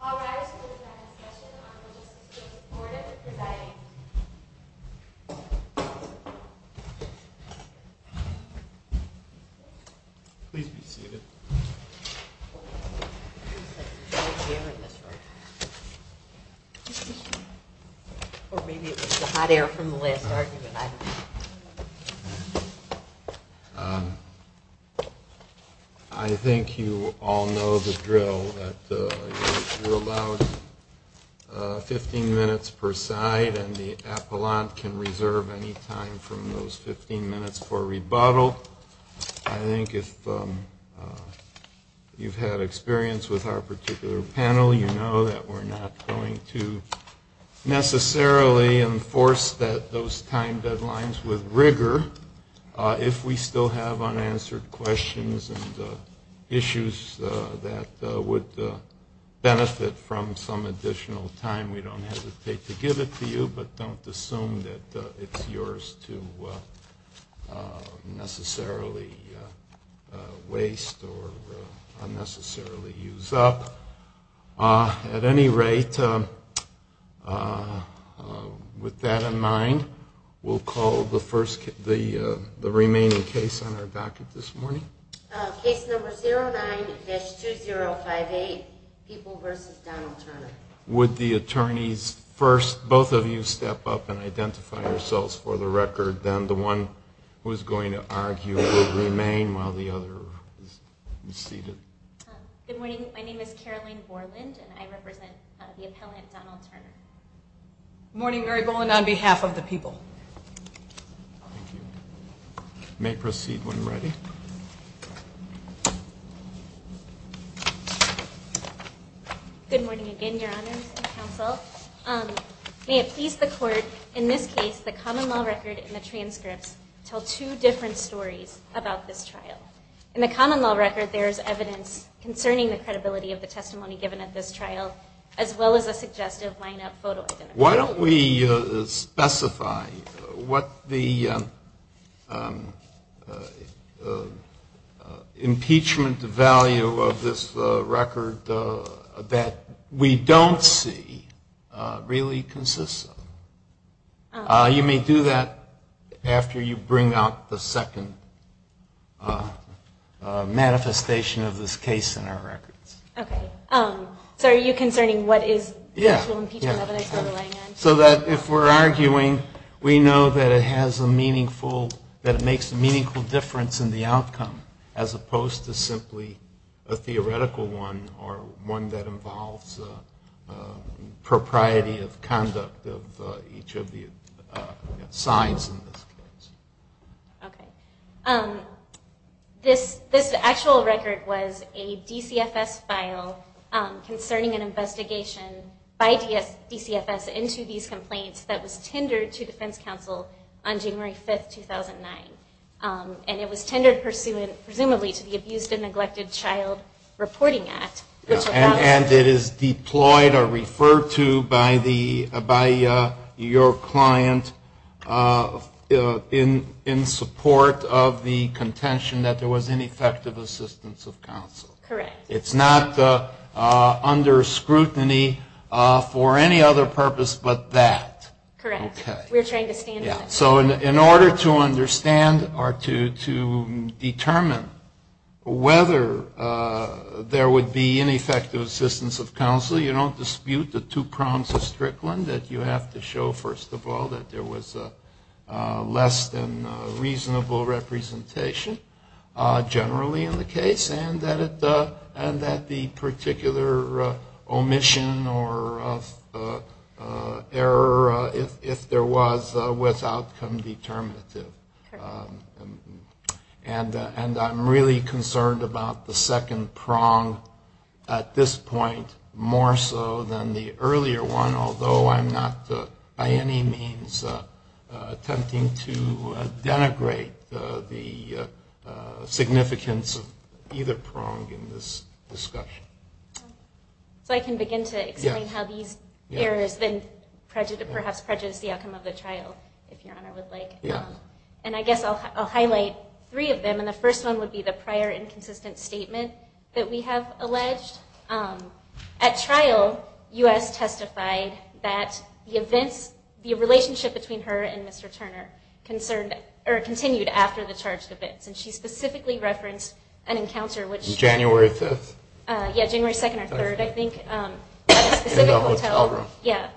All rise for the second session of the Legislative Supportive Providing Committee. I think you all know the drill that you're allowed 15 minutes per side and the appellant can reserve any time from those 15 minutes for rebuttal. I think if you've had experience with our particular panel, you know that we're not going to necessarily enforce those time deadlines with rigor if we still have unanswered questions and issues that would benefit from some additional time. We don't hesitate to give it to you, but don't assume that it's yours to necessarily waste or unnecessarily use up. At any rate, with that in mind, we'll call the remaining case on our docket this morning. Case number 09-2058, People v. Donald Turner. Would the attorneys first, both of you step up and identify yourselves for the record. Then the one who's going to argue will remain while the other is seated. Good morning. My name is Caroline Borland and I represent the appellant Donald Turner. Good morning, Mary Borland, on behalf of the people. Thank you. You may proceed when ready. Good morning again, your honors and counsel. May it please the court, in this case, the common law record and the transcripts tell two different stories about this trial. In the common law record, there is evidence concerning the credibility of the testimony given at this trial, as well as a suggestive lineup photo identification. Why don't we specify what the impeachment value of this record that we don't see really consists of. You may do that after you bring out the second manifestation of this case in our records. Okay. So are you concerning what is the actual impeachment evidence we're relying on? So that if we're arguing, we know that it has a meaningful, that it makes a meaningful difference in the outcome, as opposed to simply a theoretical one or one that involves propriety of conduct of each of the sides in this case. Okay. This actual record was a DCFS file concerning an investigation by DCFS into these complaints that was tendered to defense counsel on January 5th, 2009. And it was tendered presumably to the Abused and Neglected Child Reporting Act. And it is deployed or referred to by the, by your client in support of the contention that there was ineffective assistance of counsel. Correct. It's not under scrutiny for any other purpose but that. Correct. Okay. We're trying to stand on that. So in order to understand or to determine whether there would be ineffective assistance of counsel, you don't dispute the two prongs of Strickland, that you have to show, first of all, that there was less than reasonable representation generally in the case and that the particular omission or error, if there was, was outcome determinative. Sure. And I'm really concerned about the second prong at this point more so than the earlier one, although I'm not by any means attempting to denigrate the significance of either prong in this discussion. So I can begin to explain how these errors then perhaps prejudice the outcome of the trial, if Your Honor would like. Yes. And I guess I'll highlight three of them, and the first one would be the prior inconsistent statement that we have alleged. At trial, U.S. testified that the events, the relationship between her and Mr. Turner concerned, or continued after the charged events. In January. In January. In January. In January. In January. In January. In January. In January. In January. In January. In January. In January. In January. In January 5th. Yes. January 2nd or 3rd, I think. In the hotel room. In a specific hotel. Yes.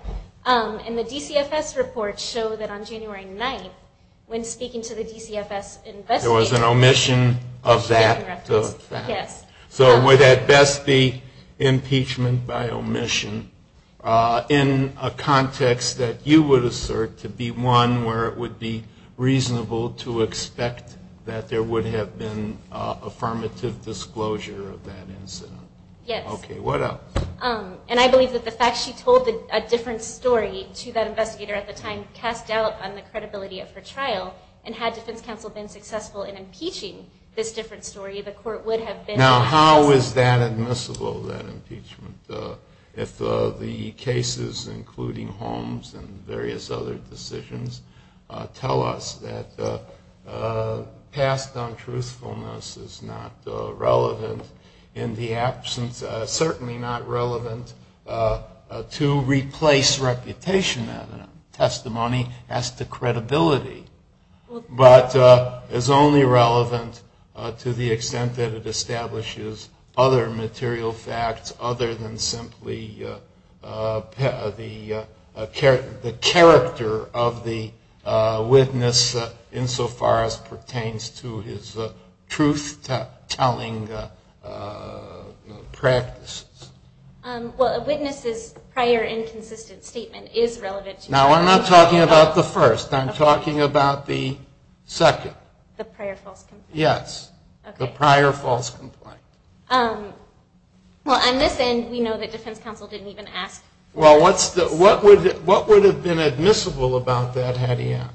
And the DCFS report showed that on January 9th, when speaking to the DCFS investigation committee... There was an omission of that fact. Yes. So it would have best be impeachment by omission in a context that you would assert to be one where it would be reasonable to expect that there would have been affirmative disclosure of that incident. Yes. Okay. What else? And I believe that the fact she told a different story to that investigator at the time cast doubt on the credibility of her trial, and had defense counsel been successful in impeaching this different story, the court would have been... Now how is that admissible, that impeachment, if the cases, including Holmes and various other decisions, tell us that past untruthfulness is not relevant in the absence, certainly not relevant to replace reputation as a testimony as to credibility, but is only relevant to the extent that it establishes other material facts other than simply the character of the witness insofar as pertains to his truth-telling practices? Well, a witness's prior inconsistent statement is relevant to... Now I'm not talking about the first. I'm talking about the second. The prior false confession? Yes. Okay. The prior false complaint. Well, on this end, we know that defense counsel didn't even ask for this. Well, what would have been admissible about that had he asked?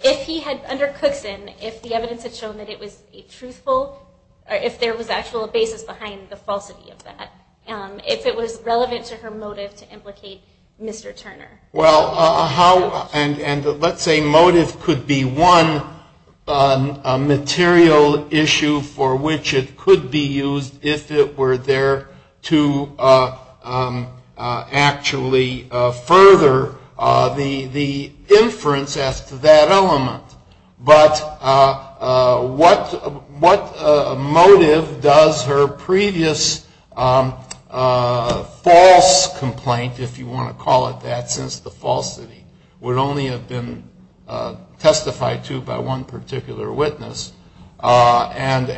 If he had, under Cookson, if the evidence had shown that it was truthful, or if there was actual basis behind the falsity of that, if it was relevant to her motive to implicate Mr. Turner. Well, how, and let's say motive could be one material issue for which it could be used if it were there to actually further the inference as to that element. But what motive does her previous false complaint, if you want to call it that, since the falsity would only have been testified to by one particular witness, and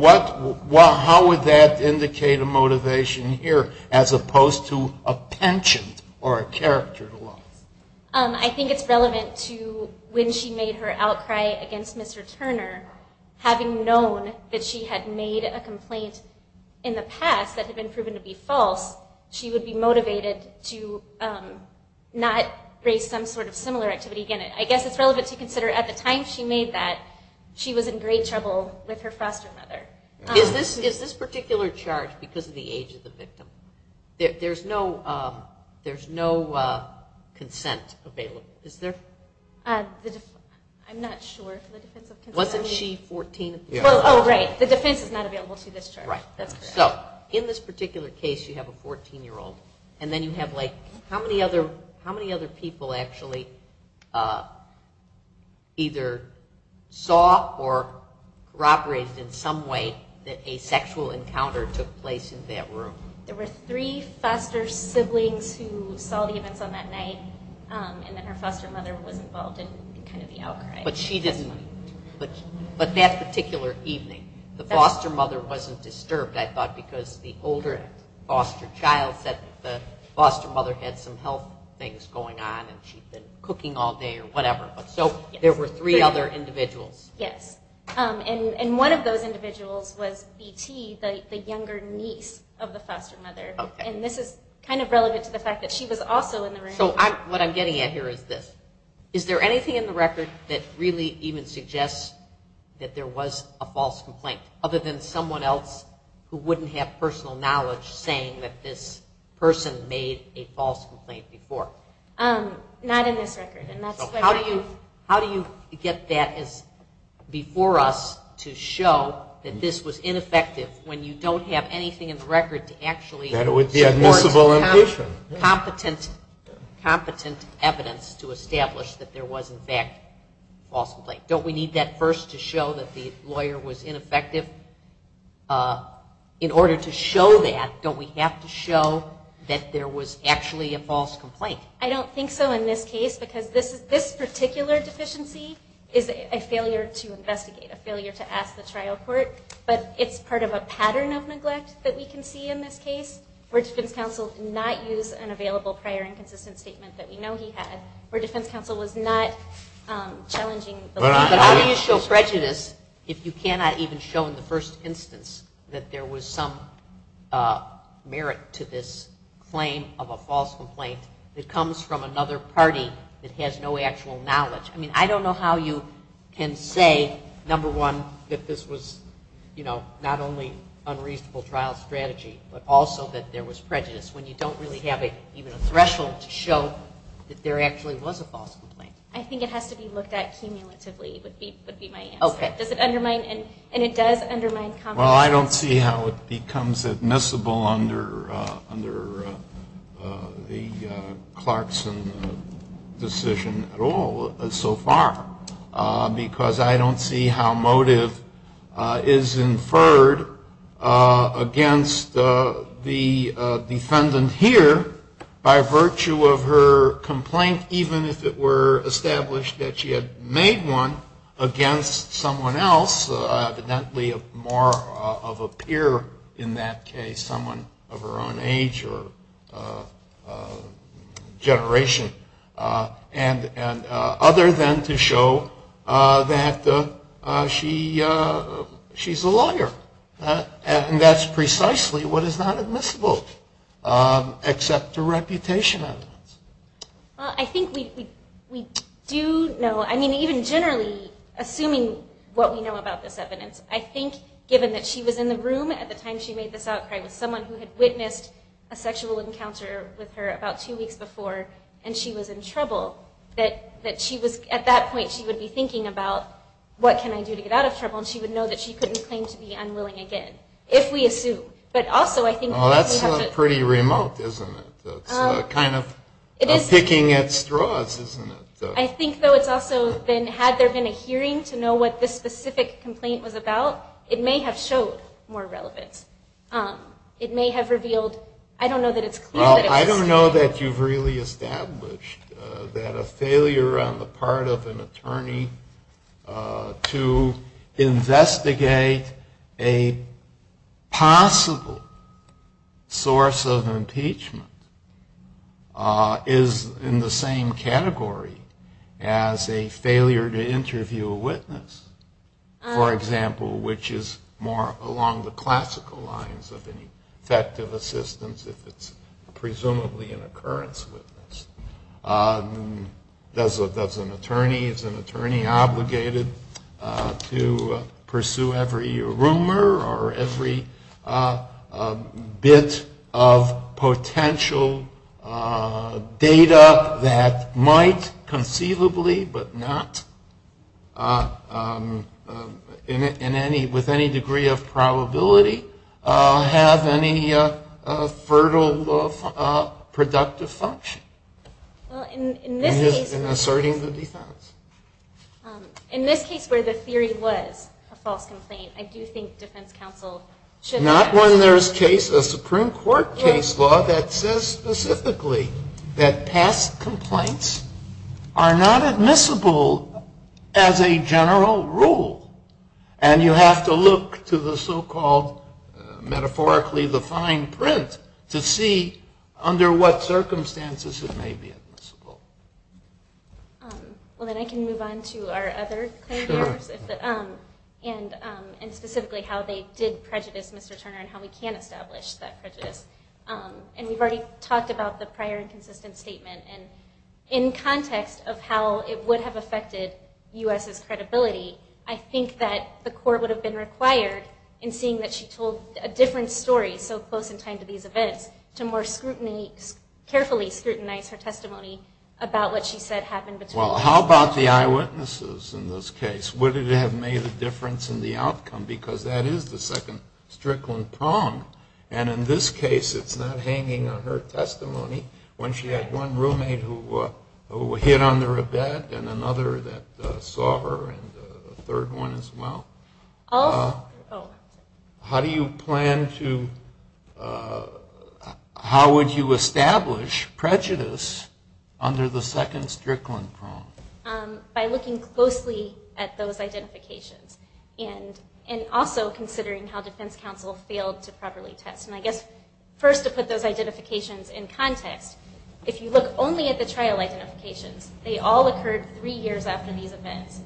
what, how would that indicate a motivation here as opposed to a penchant or a character loss? I think it's relevant to when she made her outcry against Mr. Turner, having known that she had made a complaint in the past that had been proven to be false, she would be motivated to not raise some sort of similar activity. Again, I guess it's relevant to consider at the time she made that, she was in great trouble with her foster mother. There's no consent available, is there? I'm not sure if the defense of consent... Wasn't she 14 at the time? Oh, right, the defense is not available to this charge. Right, so in this particular case, you have a 14-year-old, and then you have like, how many other people actually either saw or corroborated in some way that a sexual encounter took place in that room? There were three foster siblings who saw the events on that night, and then her foster mother was involved in kind of the outcry. But she didn't, but that particular evening, the foster mother wasn't disturbed, I thought, because the older foster child said that the foster mother had some health things going on and she'd been cooking all day or whatever, but so there were three other individuals. Yes, and one of those individuals was BT, the younger niece of the foster mother, and this is kind of relevant to the fact that she was also in the room. So what I'm getting at here is this. Is there anything in the record that really even suggests that there was a false complaint, other than someone else who wouldn't have personal knowledge saying that this person made a false complaint before? Not in this record. So how do you get that before us to show that this was ineffective when you don't have anything in the record to actually support competent evidence to establish that there was, in fact, a false complaint? Don't we need that first to show that the lawyer was ineffective? In order to show that, don't we have to show that there was actually a false complaint? I don't think so in this case because this particular deficiency is a failure to investigate, a failure to ask the trial court, but it's part of a pattern of neglect that we can see in this case where defense counsel did not use an available prior inconsistent statement that we know he had, where defense counsel was not challenging the lawyer. But how do you show prejudice if you cannot even show in the first instance that there was some merit to this claim of a false complaint that comes from another party that has no actual knowledge? I mean, I don't know how you can say, number one, that this was not only unreasonable trial strategy, but also that there was prejudice when you don't really have even a threshold to show that there actually was a false complaint. I think it has to be looked at cumulatively, would be my answer. Does it undermine, and it does undermine competence. Well, I don't see how it becomes admissible under the Clarkson decision at all so far because I don't see how motive is inferred against the defendant here by virtue of her complaint, even if it were established that she had made one against someone else, evidently more of a peer in that case, someone of her own age or generation, other than to show that she's a lawyer. And that's precisely what is not admissible, except her reputation. I think we do know, I mean, even generally, assuming what we know about this evidence, I think, given that she was in the room at the time she made this outcry with someone who had witnessed a sexual encounter with her about two weeks before, and she was in trouble, that at that point she would be thinking about, what can I do to get out of trouble? And she would know that she couldn't claim to be unwilling again, if we assume. But also, I think that we have to- Well, that's pretty remote, isn't it? That's kind of picking at straws, isn't it? I think, though, it's also been, had there been a hearing to know what this specific complaint was about, it may have showed more relevance. It may have revealed, I don't know that it's clear that it was- Well, I don't know that you've really established that a failure on the part of an attorney to investigate a possible source of impeachment is in the same category as a failure to interview a witness, for example, which is more along the classical lines of an effective assistance if it's presumably an occurrence witness. Does an attorney, is an attorney obligated to pursue every rumor or every bit of potential data that might conceivably, but not with any degree of probability, have any fertile, productive function in asserting the defense? In this case where the theory was a false complaint, I do think defense counsel should- When there's case, a Supreme Court case law that says specifically that past complaints are not admissible as a general rule, and you have to look to the so-called metaphorically defined print to see under what circumstances it may be admissible. Well, then I can move on to our other players, and specifically how they did prejudice Mr. Strickland, and how we can establish that prejudice, and we've already talked about the prior inconsistent statement, and in context of how it would have affected U.S.'s credibility, I think that the court would have been required in seeing that she told a different story so close in time to these events to more scrutiny, carefully scrutinize her testimony about what she said happened between- Well, how about the eyewitnesses in this case? Would it have made a difference in the outcome? Because that is the second Strickland prong, and in this case, it's not hanging on her testimony when she had one roommate who hid under a bed, and another that saw her, and a third one as well. How do you plan to- How would you establish prejudice under the second Strickland prong? By looking closely at those identifications, and also considering how Defense Counsel failed to properly test, and I guess first to put those identifications in context, if you look only at the trial identifications, they all occurred three years after these events,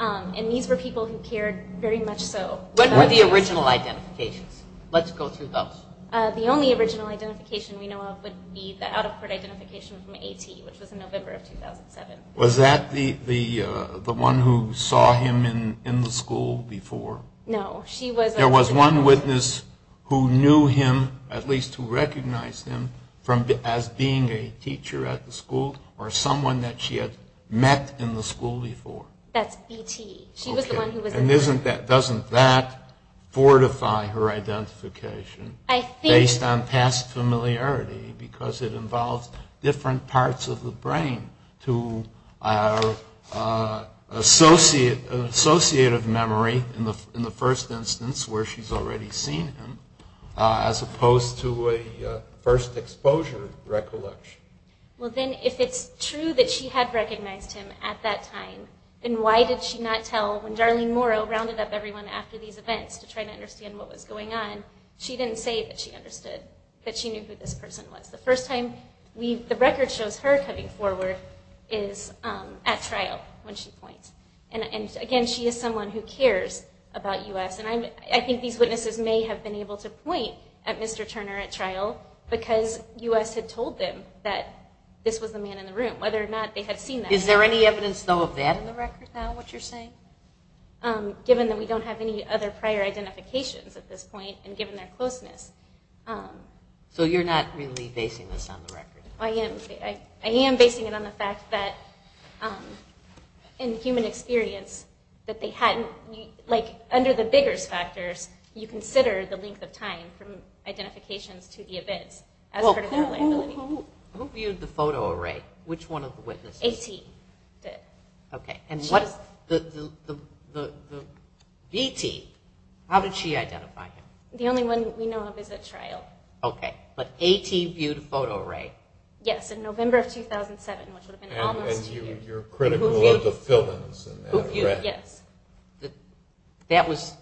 and these were people who cared very much so- What were the original identifications? Let's go through those. The only original identification we know of would be the out-of-court identification from A.T., which was in November of 2007. Was that the one who saw him in the school before? No, she was- There was one witness who knew him, at least who recognized him, as being a teacher at the school, or someone that she had met in the school before? That's B.T. She was the one who was- Okay, and doesn't that fortify her identification- I think- Based on past familiarity, because it was different parts of the brain to associate of memory in the first instance where she's already seen him, as opposed to a first exposure recollection? Well then, if it's true that she had recognized him at that time, then why did she not tell when Darlene Morrow rounded up everyone after these events to try to understand what was going on? She didn't say that she understood, that she knew who this person was. The first time we- the record shows her coming forward is at trial when she points. And again, she is someone who cares about U.S., and I think these witnesses may have been able to point at Mr. Turner at trial because U.S. had told them that this was the man in the room, whether or not they had seen that- Is there any evidence though of that in the record now, what you're saying? Given that we don't have any other prior identifications at this point, and given their age, you're not really basing this on the record? I am. I am basing it on the fact that in human experience that they hadn't- like under the Biggers factors, you consider the length of time from identifications to the events as part of their liability. Who viewed the photo array? Which one of the witnesses? A.T. did. Okay, and what is the- V.T., how did she identify him? The only one we know of is at trial. Okay, but A.T. viewed a photo array? Yes, in November of 2007, which would have been almost- And you're critical of the fillings in that, correct? Yes. That was-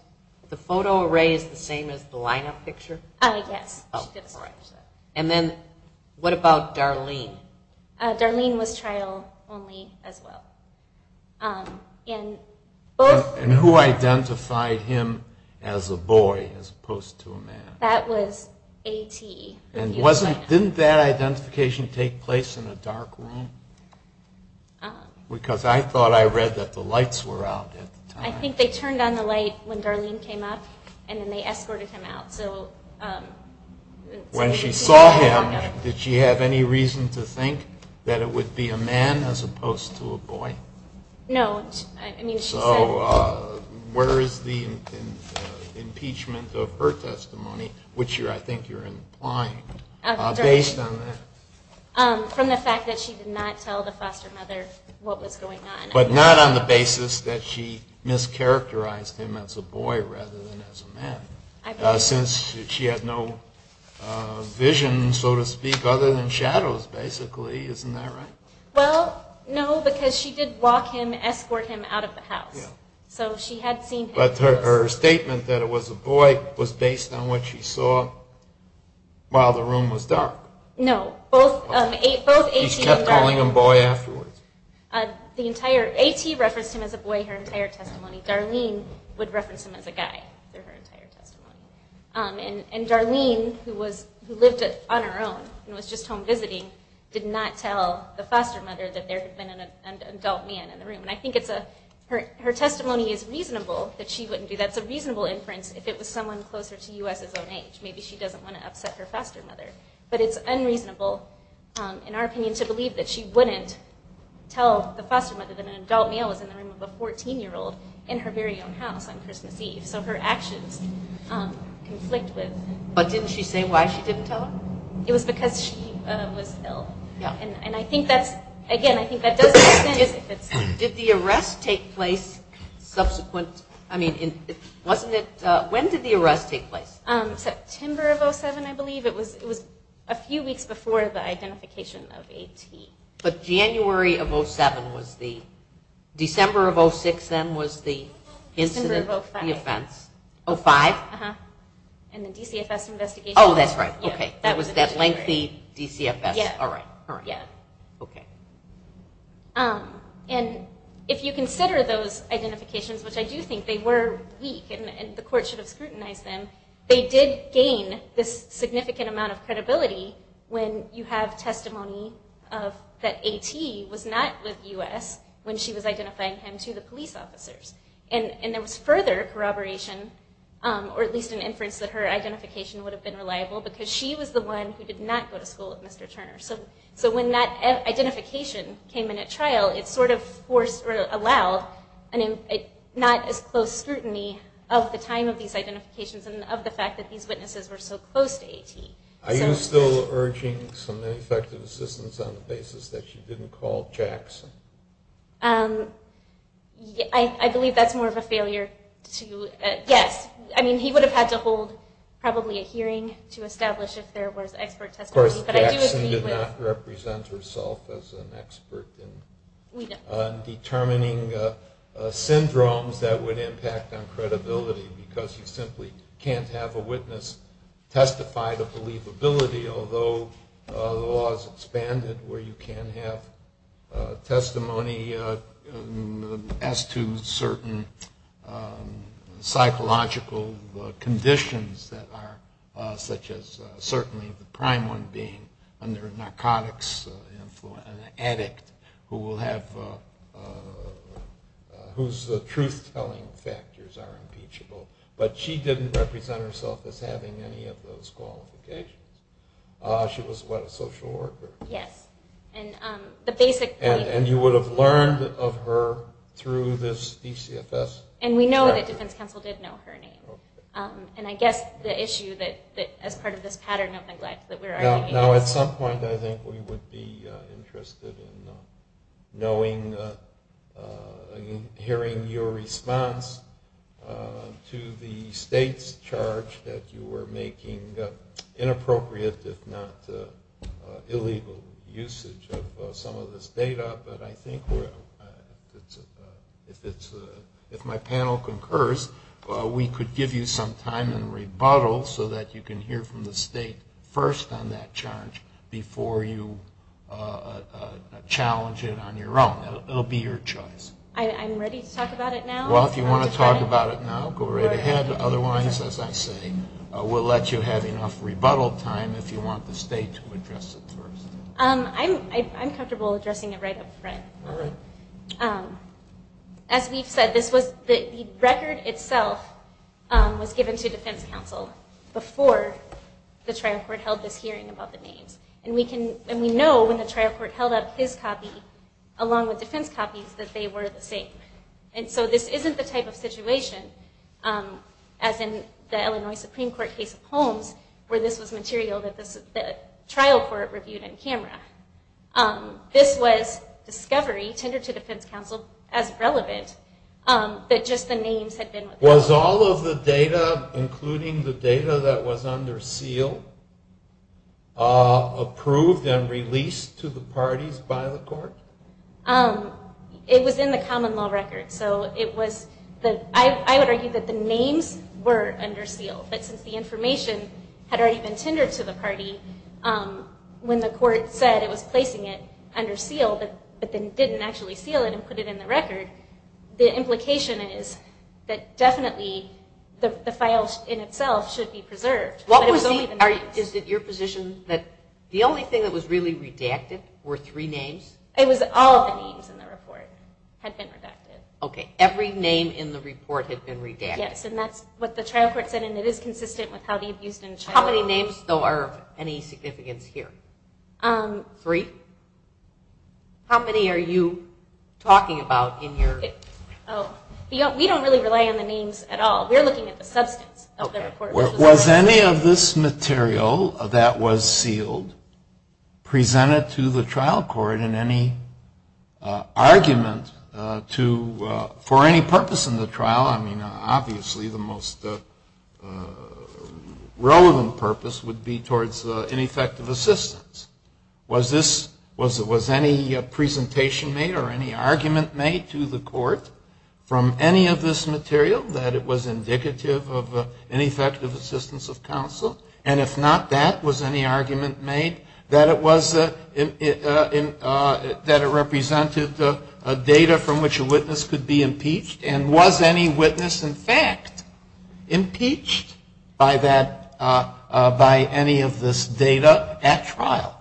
the photo array is the same as the lineup picture? Yes. And then what about Darlene? Darlene was trial only as well. And who identified him as a boy as opposed to a man? That was A.T. And wasn't- didn't that identification take place in a dark room? Because I thought I read that the lights were out at the time. I think they turned on the light when Darlene came up, and then they escorted him out, so- When she saw him, did she have any reason to think that it would be a man as opposed to a boy? No. I mean, she said- So where is the impeachment of her testimony, which I think you're implying, based on that? From the fact that she did not tell the foster mother what was going on. But not on the basis that she mischaracterized him as a boy rather than as a man. Since she had no vision, so to speak, other than shadows, basically. Isn't that right? Well, no, because she did walk him, escort him out of the house. So she had seen- But her statement that it was a boy was based on what she saw while the room was dark. No. Both A.T. and Darlene- She kept calling him boy afterwards. The entire- A.T. referenced him as a boy her entire testimony. Darlene would reference him as a guy through her entire testimony. And Darlene, who lived on her own and was just home visiting, did not tell the foster mother that there had been an adult man in the room. And I think it's a- Her testimony is reasonable that she wouldn't do- That's a reasonable inference if it was someone closer to U.S.'s own age. Maybe she doesn't want to upset her foster mother. But it's unreasonable, in our opinion, to believe that she wouldn't tell the foster mother that an adult male was in the room of a 14-year-old in her very own house on Christmas Eve. So her actions conflict with- But didn't she say why she didn't tell her? It was because she was ill. Yeah. And I think that's- Again, I think that does make sense if it's- Did the arrest take place subsequent- I mean, wasn't it- When did the arrest take place? September of 07, I believe. It was a few weeks before the identification of AT. But January of 07 was the- December of 06, then, was the incident- December of 05. The offense. 05? Uh-huh. And the DCFS investigation- Oh, that's right. Okay. It was that lengthy DCFS. All right. All right. Okay. And if you consider those identifications, which I do think they were weak and the court should scrutinize them, they did gain this significant amount of credibility when you have testimony of that AT was not with US when she was identifying him to the police officers. And there was further corroboration, or at least an inference that her identification would have been reliable because she was the one who did not go to school with Mr. Turner. So when that identification came in at trial, it sort of forced or allowed not as close scrutiny of the time of these identifications and of the fact that these witnesses were so close to AT. Are you still urging some ineffective assistance on the basis that she didn't call Jackson? I believe that's more of a failure to- Yes. I mean, he would have had to hold probably a hearing to establish if there was expert testimony. Of course, Jackson did not represent herself as an expert in determining syndromes that would impact on credibility because you simply can't have a witness testify to believability, although the law has expanded where you can have testimony as to certain psychological conditions that are such as certainly the prime one being under narcotics, an addict who will have- Factors are impeachable. But she didn't represent herself as having any of those qualifications. She was what, a social worker? Yes. And the basic point- And you would have learned of her through this DCFS- And we know that defense counsel did know her name. And I guess the issue that as part of this pattern of neglect that we're arguing- Now, at some point, I think we would be making a response to the state's charge that you were making inappropriate, if not illegal, usage of some of this data. But I think if my panel concurs, we could give you some time and rebuttal so that you can hear from the state first on that charge before you challenge it on your own. It'll be your choice. I'm ready to talk about it now? Well, if you want to talk about it now, go right ahead. Otherwise, as I say, we'll let you have enough rebuttal time if you want the state to address it first. I'm comfortable addressing it right up front. As we've said, the record itself was given to defense counsel before the trial court held this hearing about the names. And we know when the trial court held up his copy along with defense copies that they were the same. And so this isn't the type of situation, as in the Illinois Supreme Court case of Holmes, where this was material that the trial court reviewed on camera. This was discovery, tendered to defense counsel as relevant, that just the names had been- Was all of the data, including the data that was under seal, approved and released to the parties by the court? It was in the common law record. So it was- I would argue that the names were under seal, but since the information had already been tendered to the party, when the court said it was placing it under seal, but then didn't actually seal it and put it in the record, the implication is that definitely the file in itself should be preserved. What was the- Is it your position that the only thing that was really redacted were three names? It was all of the names in the report had been redacted. Okay, every name in the report had been redacted? Yes, and that's what the trial court said, and it is consistent with how the abused and child- How many names, though, are of any significance here? Three? How many are you talking about in your- Oh, we don't really rely on the names at all. We're looking at the substance of the report. Was any of this material that was sealed presented to the trial court in any argument for any purpose in the trial? I mean, obviously the most relevant purpose would be towards ineffective assistance. Was any presentation made or any argument made to the court from any of this material that it was indicative of ineffective assistance of counsel? And if not, that, was any argument made that it represented data from which a witness could be impeached? And was any witness, in fact, impeached by any of this data at trial?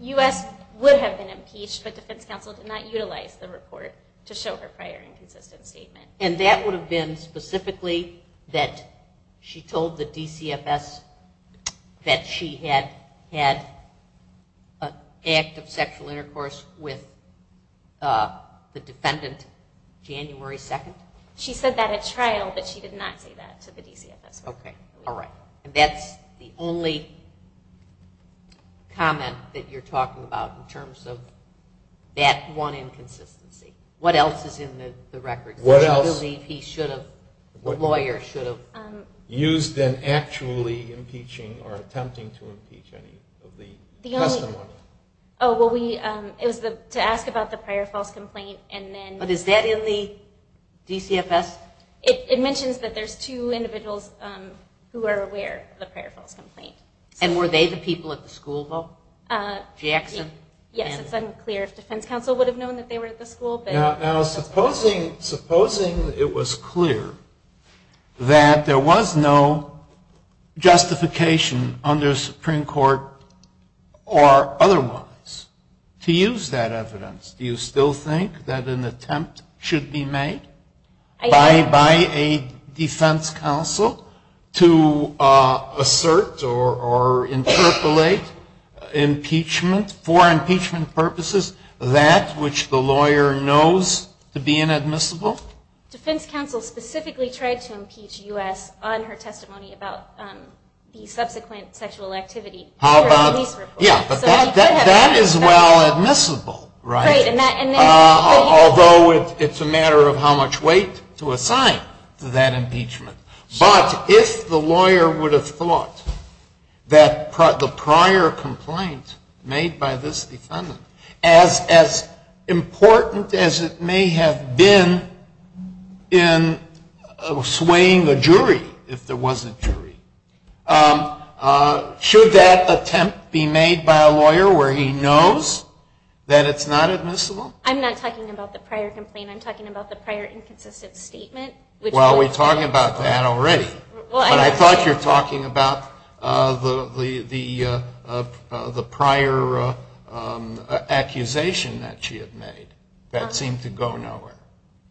U.S. would have been impeached, but defense counsel did not utilize the report to show her prior inconsistent statement. And that would have been specifically that she told the DCFS that she had had an act of sexual intercourse with the defendant January 2nd? She said that at trial, but she did not say that to the DCFS. Okay, all right, and that's the only comment that you're talking about in terms of that one inconsistency. What else is in the record? What else do you believe he should have, the lawyer should have, used in actually impeaching or attempting to impeach any of the testimony? Oh, well, we, it was to ask about the prior false complaint, and then... But is that in the DCFS? It mentions that there's two individuals who are aware of the prior false complaint. And were they the people at the school, though? Jackson? Yes, it's unclear if defense counsel would have known that they were at the school, but... Now, supposing it was clear that there was no justification under Supreme Court or otherwise to use that evidence, do you still think that an attempt should be made by a defense counsel to assert or interpolate impeachment for impeachment purposes, that which the lawyer knows to be inadmissible? Defense counsel specifically tried to impeach U.S. on her testimony about the subsequent sexual activity. How about, yeah, but that is well enough weight to assign to that impeachment. But if the lawyer would have thought that the prior complaint made by this defendant as important as it may have been in swaying a jury, if there was a jury, should that attempt be made by a lawyer where he knows that it's not admissible? I'm not talking about the prior complaint. I'm talking about the prior inconsistent statement. Well, we're talking about that already. But I thought you're talking about the prior accusation that she had made. That seemed to go nowhere.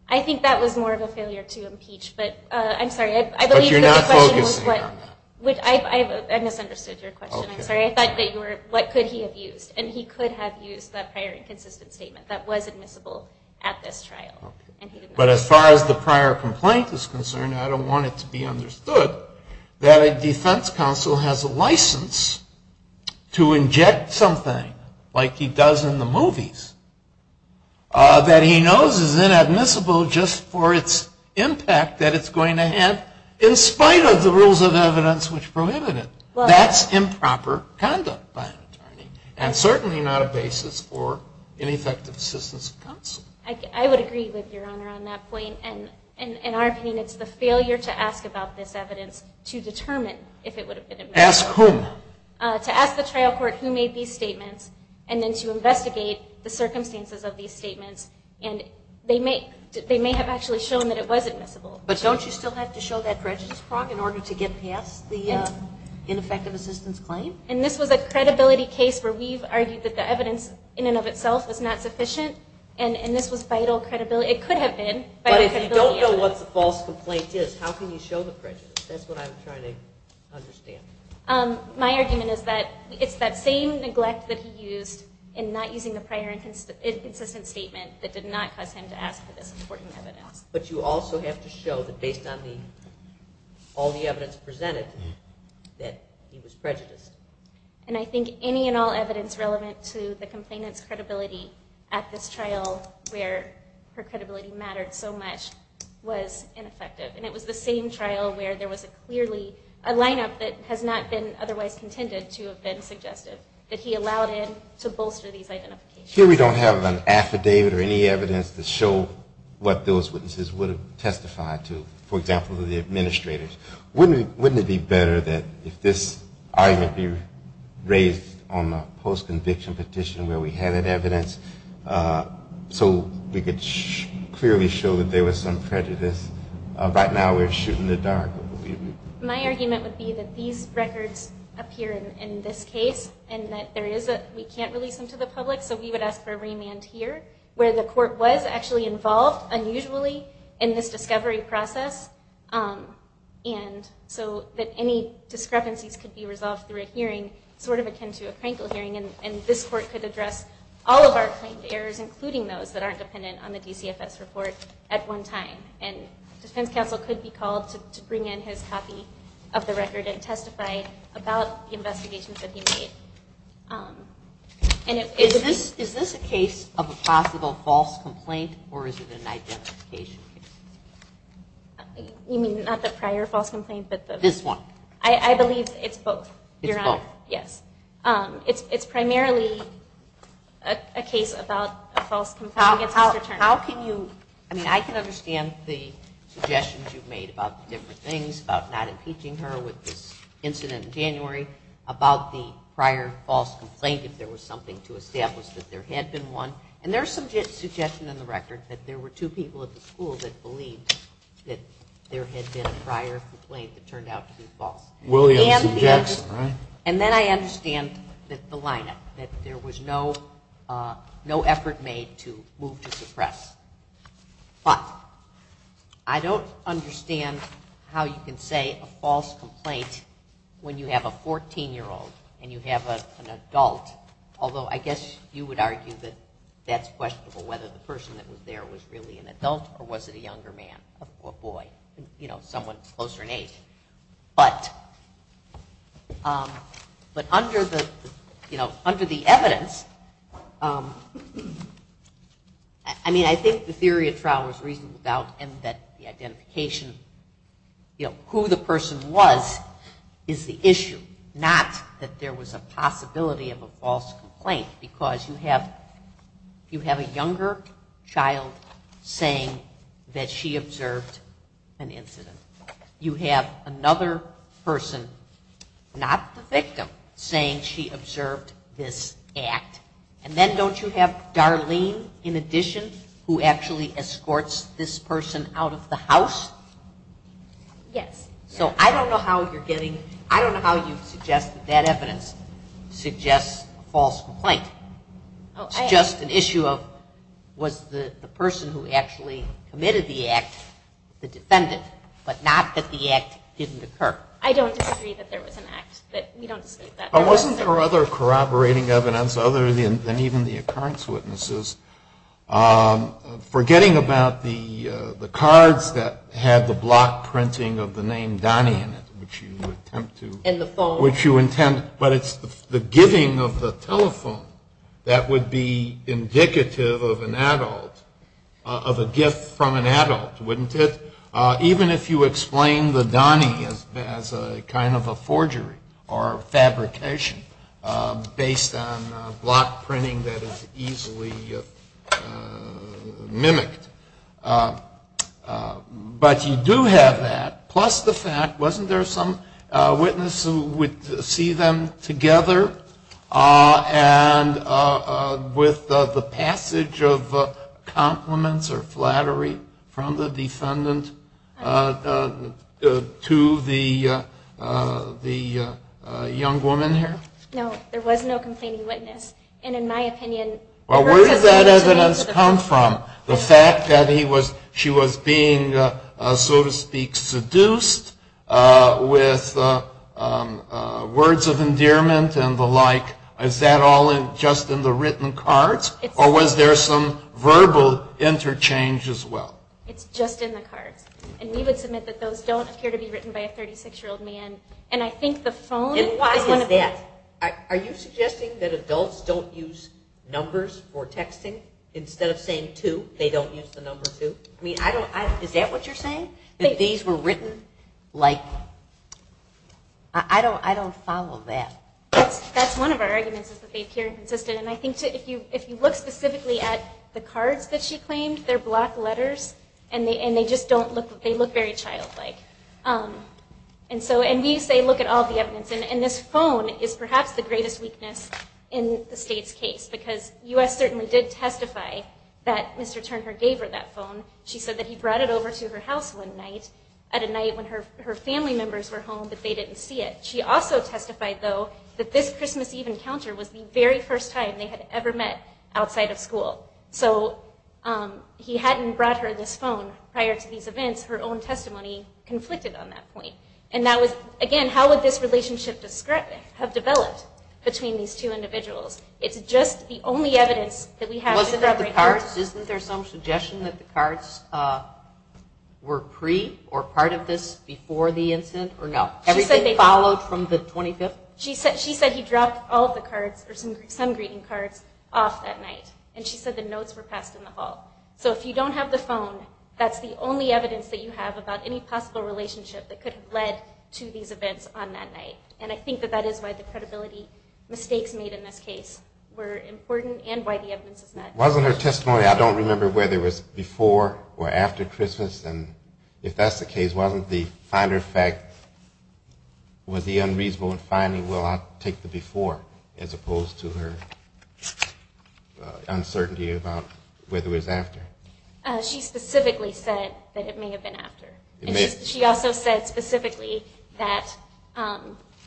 I think that was more of a failure to impeach, but I'm sorry, I believe that the question was what... But you're not focusing on that. I misunderstood your question. I'm sorry. I thought that you were, what could he have used? And he could have used that prior inconsistent statement that was admissible at this trial. But as far as the prior complaint is concerned, I don't want it to be understood that a defense counsel has a license to inject something like he does in the movies that he knows is inadmissible just for its impact that it's going to have in spite of the rules of the law. It's certainly not a basis for ineffective assistance of counsel. I would agree with Your Honor on that point. And in our opinion, it's the failure to ask about this evidence to determine if it would have been admissible. Ask whom? To ask the trial court who made these statements and then to investigate the circumstances of these statements. And they may have actually shown that it was admissible. But don't you still have to show that prejudice prong in order to get past the ineffective assistance claim? And this was a credibility case where we've argued that the evidence in and of itself was not sufficient. And this was vital credibility. It could have been. But if you don't know what the false complaint is, how can you show the prejudice? That's what I'm trying to understand. My argument is that it's that same neglect that he used in not using the prior inconsistent statement that did not cause him to ask for this important evidence. But you also have to show that based on all the evidence presented that he was prejudiced. And I think any and all evidence relevant to the complainant's credibility at this trial where her credibility mattered so much was ineffective. And it was the same trial where there was clearly a lineup that has not been otherwise contended to have been suggestive that he allowed in to bolster these identifications. Here we don't have an affidavit or any evidence to show what those witnesses would have testified to. For example, the administrators. Wouldn't it be better that if this argument be raised on a post-conviction petition where we had that evidence so we could clearly show that there was some prejudice? Right now we're shooting the dark. My argument would be that these records appear in this case and that we can't release them to the public. So we would ask for a remand here where the court was actually involved unusually in this discovery process. And so that any discrepancies could be resolved through a hearing sort of akin to a Krankel hearing. And this court could address all of our claimed errors, including those that aren't dependent on the DCFS report at one time. And defense counsel could be called to bring in his copy of the record and testify about the investigations that he made. Is this a case of a possible false complaint or is it an identification case? You mean not the prior false complaint? This one. I believe it's both. It's both? Yes. It's primarily a case about a false complaint against Mr. Turner. How can you, I mean I can understand the suggestions you've made about the different if there was something to establish that there had been one. And there's some suggestion in the record that there were two people at the school that believed that there had been a prior complaint that turned out to be false. And then I understand the lineup, that there was no effort made to move to suppress. But I don't understand how you can say a false complaint when you have a 14-year-old and you have an adult, although I guess you would argue that that's questionable whether the person that was there was really an adult or was it a younger man or boy, you know, someone closer in age. But under the, you know, under the evidence, I mean I think the theory of trial was reasonable and that the identification, you know, who the person was is the issue. Not that there was a possibility of a false complaint because you have a younger child saying that she observed an incident. You have another person, not the victim, saying she observed this act. And then don't you have Darlene, in addition, who actually escorts this person out of the house? Yes. So I don't know how you're getting, I don't know how you suggest that that evidence suggests a false complaint. It's just an issue of was the person who actually committed the act the defendant, but not that the act didn't occur. I don't disagree that there was an act. But we don't dispute that. Wasn't there other corroborating evidence other than even the occurrence witnesses? Forgetting about the cards that had the block printing of the name Donnie in it, which you attempt to. And the phone. Which you intend, but it's the giving of the telephone that would be indicative of an adult, of a gift from an adult, wouldn't it? Even if you explain the Donnie as a kind of a forgery or fabrication based on block printing that is easily mimicked. But you do have that. Plus the fact, wasn't there some witness who would see them together? And with the passage of compliments or flattery from the defendant to the young woman here? No. There was no complaining witness. And in my opinion. Well, where did that evidence come from? The fact that she was being, so to speak, seduced with words of endearment and the like. Is that all just in the written cards? Or was there some verbal interchange as well? It's just in the cards. And we would submit that those don't appear to be written by a 36-year-old man. And I think the phone is one of them. Are you suggesting that adults don't use numbers for texting? Instead of saying two, they don't use the number two? I mean, I don't, is that what you're saying? That these were written like, I don't follow that. That's one of our arguments, is that they appear inconsistent. And I think if you look specifically at the cards that she claimed, they're black letters. And they just don't look, they look very childlike. And so, and we say look at all the evidence. And this phone is perhaps the greatest weakness in the state's case. Because U.S. certainly did testify that Mr. Turner gave her that phone. She said that he brought it over to her house one night, at a night when her family members were home, but they didn't see it. She also testified, though, that this Christmas Eve encounter was the very first time they had ever met outside of school. So, he hadn't brought her this phone prior to these events. Her own testimony conflicted on that point. And that was, again, how would this relationship have developed between these two individuals? It's just the only evidence that we have to corroborate. Isn't there some suggestion that the cards were pre, or part of this before the incident? Or no, everything followed from the 25th? She said, she said he dropped all of the cards, or some greeting cards, off that night. And she said the notes were passed in the hall. So, if you don't have the phone, that's the only evidence that you have about any possible relationship that could have led to these events on that night. And I think that that is why the credibility mistakes made in this case were important, and why the evidence is not. Wasn't her testimony, I don't remember whether it was before or after Christmas, and if that's the case, wasn't the finder fact, was he unreasonable in finding, well, I'll take the before, as opposed to her uncertainty about whether it was after. She specifically said that it may have been after. She also said specifically that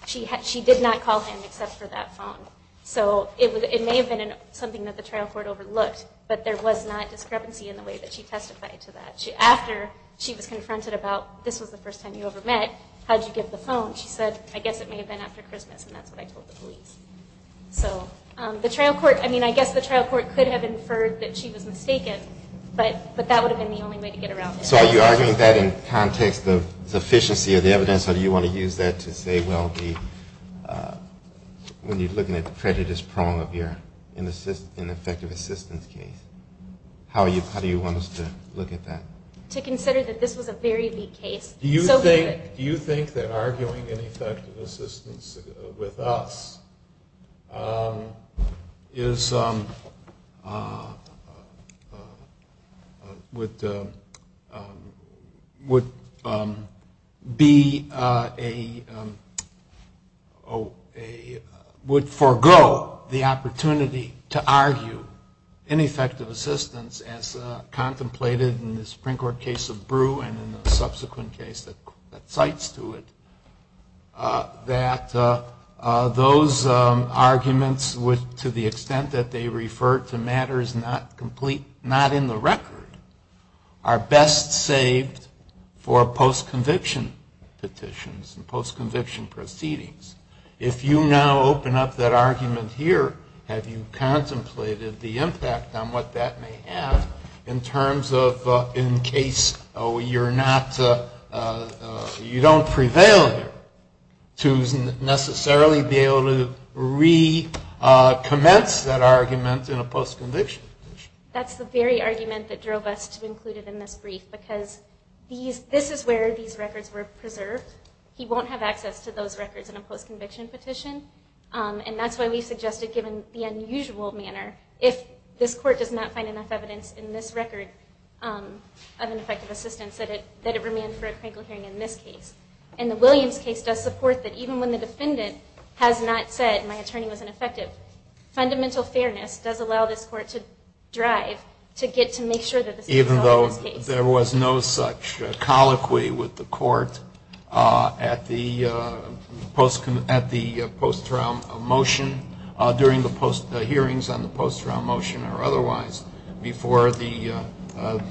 she did not call him except for that phone. So it may have been something that the trial court overlooked, but there was not discrepancy in the way that she testified to that. After she was confronted about, this was the first time you ever met, how'd you get the phone? She said, I guess it may have been after Christmas, and that's what I told the police. So, the trial court, I mean, I guess the trial court could have inferred that she was mistaken, but that would have been the only way to get around it. So are you arguing that in context of sufficiency of the evidence, or do you want to use that to say, well, when you're looking at the prejudice prone of your ineffective assistance case, how do you want us to look at that? To consider that this was a very weak case. Do you think that arguing ineffective assistance with us is, would be a, would forego the opportunity to argue ineffective assistance as contemplated in the Supreme Court case of Brew and in the subsequent case that cites to it, that those arguments would, to the extent that they refer to matters not complete, not in the record, are best saved for post-conviction petitions and post-conviction proceedings? If you now open up that argument here, have you contemplated the impact on what that may have in terms of, in case you're not, you don't prevail there, to necessarily be able to recommence that argument in a post-conviction petition? That's the very argument that drove us to include it in this brief, because this is where these records were preserved. He won't have access to those records in a post-conviction petition, and that's why we suggested, given the unusual manner, if this court does not find enough evidence in this record of ineffective assistance, that it remain for a critical hearing in this case. And the Williams case does support that even when the defendant has not said, my attorney was ineffective, fundamental fairness does allow this court to drive to get to make sure that this case is solved in this case. Even though there was no such colloquy with the court at the post-trial motion, during the hearings on the post-trial motion or otherwise, before the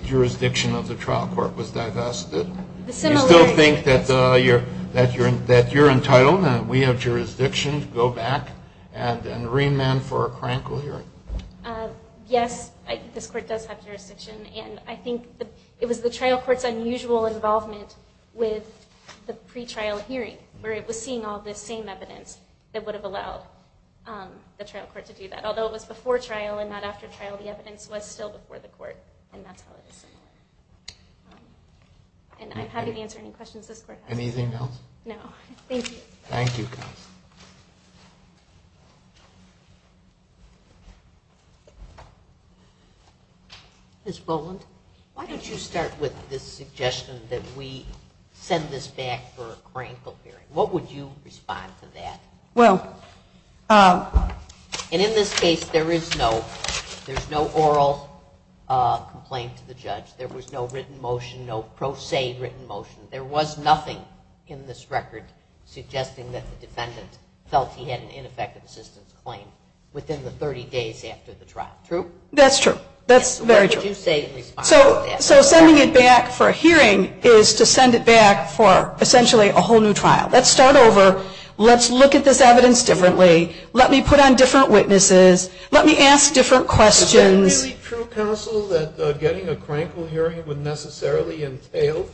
jurisdiction of the trial court was divested? You still think that you're entitled and we have jurisdiction to go back and remand for a critical hearing? Yes, this court does have jurisdiction. And I think it was the trial court's unusual involvement with the pretrial hearing, where it was seeing all this same evidence that would have allowed the trial court to do that. Although it was before trial and not after trial, the evidence was still before the court, and that's how it is. And I'm happy to answer any questions this court has. Anything else? No. Thank you. Thank you, counselor. Ms. Boland, why don't you start with this suggestion that we send this back for a cranial hearing? What would you respond to that? Well. And in this case, there is no oral complaint to the judge. There was no written motion, no pro se written motion. There was nothing in this record suggesting that the defendant felt he had an ineffective assistance claim within the 30 days after the trial. True? That's true. That's very true. What would you say in response to that? So sending it back for a hearing is to send it back for, essentially, a whole new trial. Let's start over. Let's look at this evidence differently. Let me put on different witnesses. Let me ask different questions. Is it really true, counsel, that getting a cranial hearing would necessarily entail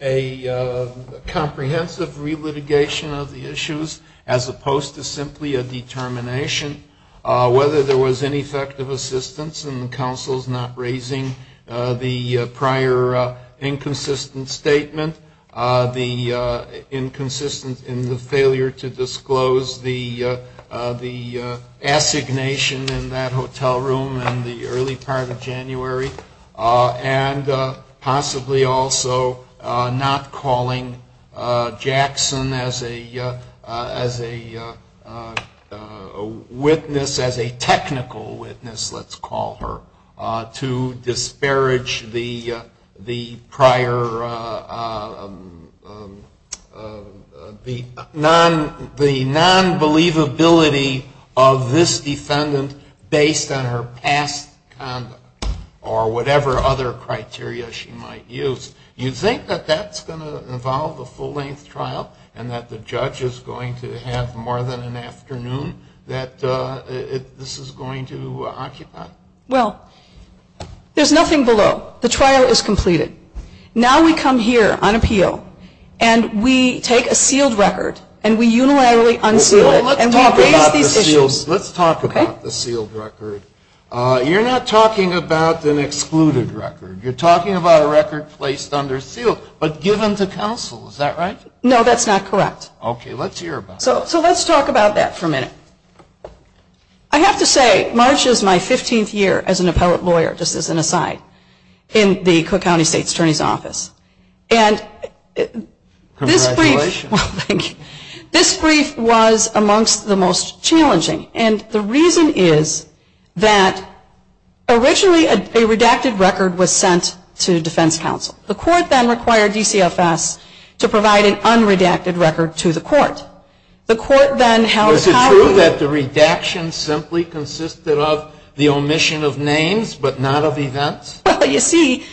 a comprehensive relitigation of the issues, as opposed to simply a determination whether there was ineffective assistance, and the counsel's not raising the prior inconsistent statement, the inconsistency in the failure to disclose the assignation in that hotel room in the early part of January, and possibly also not calling Jackson as a witness, as a technical witness, let's call her, to disparage the prior non-believability of this defendant based on her past conduct, or whatever other criteria she might use. You think that that's going to involve a full-length trial, and that the judge is going to have more than an afternoon that this is going to occupy? Well, there's nothing below. The trial is completed. Now we come here on appeal, and we take a sealed record, and we unilaterally unseal it, and we raise these issues. Let's talk about the sealed record. You're not talking about an excluded record. You're talking about a record placed under seal, but given to counsel. Is that right? No, that's not correct. OK, let's hear about it. So let's talk about that for a minute. I have to say, March is my 15th year as an appellate lawyer, just as an aside, in the Cook County State's Attorney's Office. And this brief was amongst the most challenging. And the reason is that originally a redacted record was sent to defense counsel. The court then required DCFS to provide an unredacted record to the court. The court then held counsel. Is it true that the redaction simply consisted of the omission of names, but not of events? Well, you see,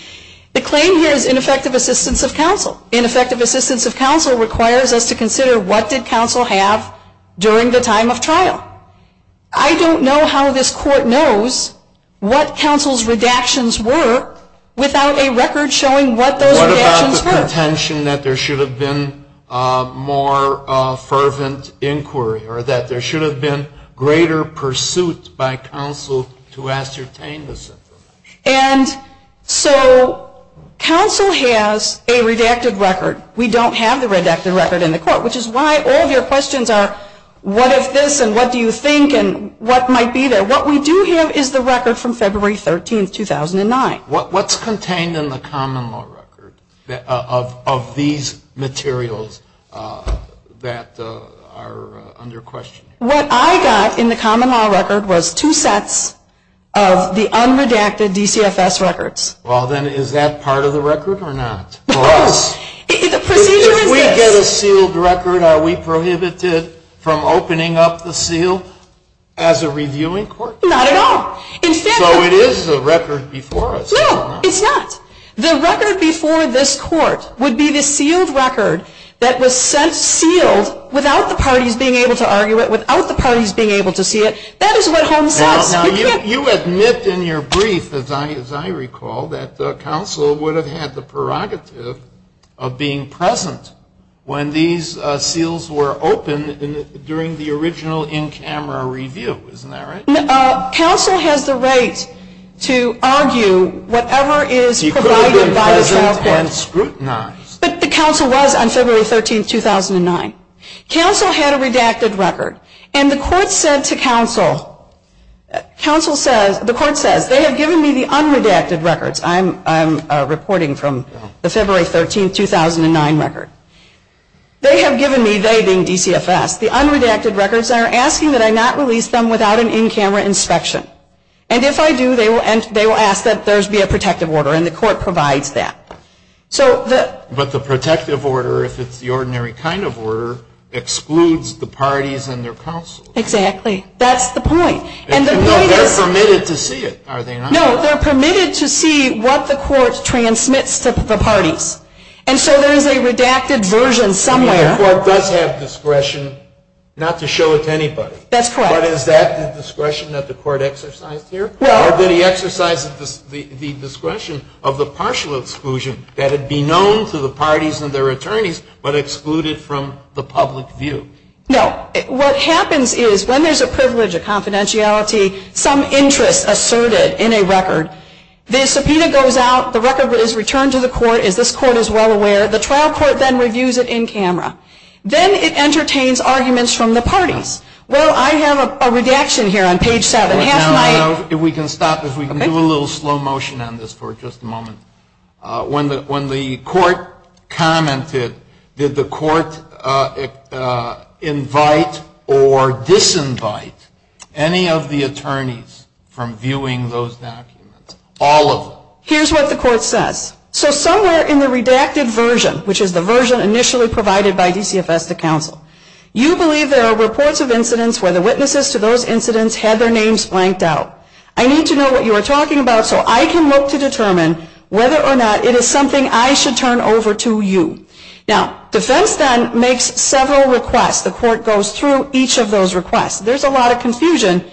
the claim here is ineffective assistance of counsel. Ineffective assistance of counsel requires us to consider what did counsel have during the time of trial. I don't know how this court knows what counsel's redactions were without a record showing what those redactions were. What about the contention that there should have been more fervent inquiry, or that there should have been greater pursuit by counsel to ascertain this information? And so counsel has a redacted record. We don't have the redacted record in the court, which is why all of your questions are, what if this? And what do you think? And what might be there? What we do have is the record from February 13, 2009. What's contained in the common law record of these materials that are under question? What I got in the common law record was two sets of the unredacted DCFS records. Well, then is that part of the record or not for us? The procedure is this. If we get a sealed record, are we prohibited from opening up the seal as a reviewing court? Not at all. So it is a record before us. No, it's not. The record before this court would be the sealed record that was sealed without the parties being able to argue it, without the parties being able to see it. That is what Holmes says. You admit in your brief, as I recall, that counsel would have had the prerogative of being present when these seals were opened during the original in-camera review, isn't that right? Counsel has the right to argue whatever is provided by the trial court, but the counsel was on February 13, 2009. Counsel had a redacted record, and the court said to counsel, the court says, they have given me the unredacted records. I'm reporting from the February 13, 2009 record. They have given me, they being DCFS, the unredacted records and are asking that I not release them without an in-camera inspection. And if I do, they will ask that there be a protective order, and the court provides that. But the protective order, if it's the ordinary kind of order, excludes the parties and their counsel. Exactly. That's the point. And the point is, They're permitted to see it, are they not? No, they're permitted to see what the court transmits to the parties. And so there is a redacted version somewhere. The court does have discretion not to show it to anybody. That's correct. But is that the discretion that the court exercised here? Or did he exercise the discretion of the partial exclusion that it be known to the parties and their attorneys, but excluded from the public view? No. What happens is, when there's a privilege, a confidentiality, some interest asserted in a record, the subpoena goes out, the record is returned to the court, as this court is well aware. The trial court then reviews it in camera. Then it entertains arguments from the parties. Well, I have a redaction here on page 7. Half my- If we can stop, if we can do a little slow motion on this for just a moment. When the court commented, did the court invite or disinvite any of the attorneys from viewing those documents? All of them? Here's what the court says. So somewhere in the redacted version, which is the version initially provided by DCFS to counsel, you believe there are reports of incidents where the witnesses to those incidents had their names blanked out. I need to know what you are talking about, so I can look to determine whether or not it is something I should turn over to you. Now, defense then makes several requests. The court goes through each of those requests. There's a lot of confusion,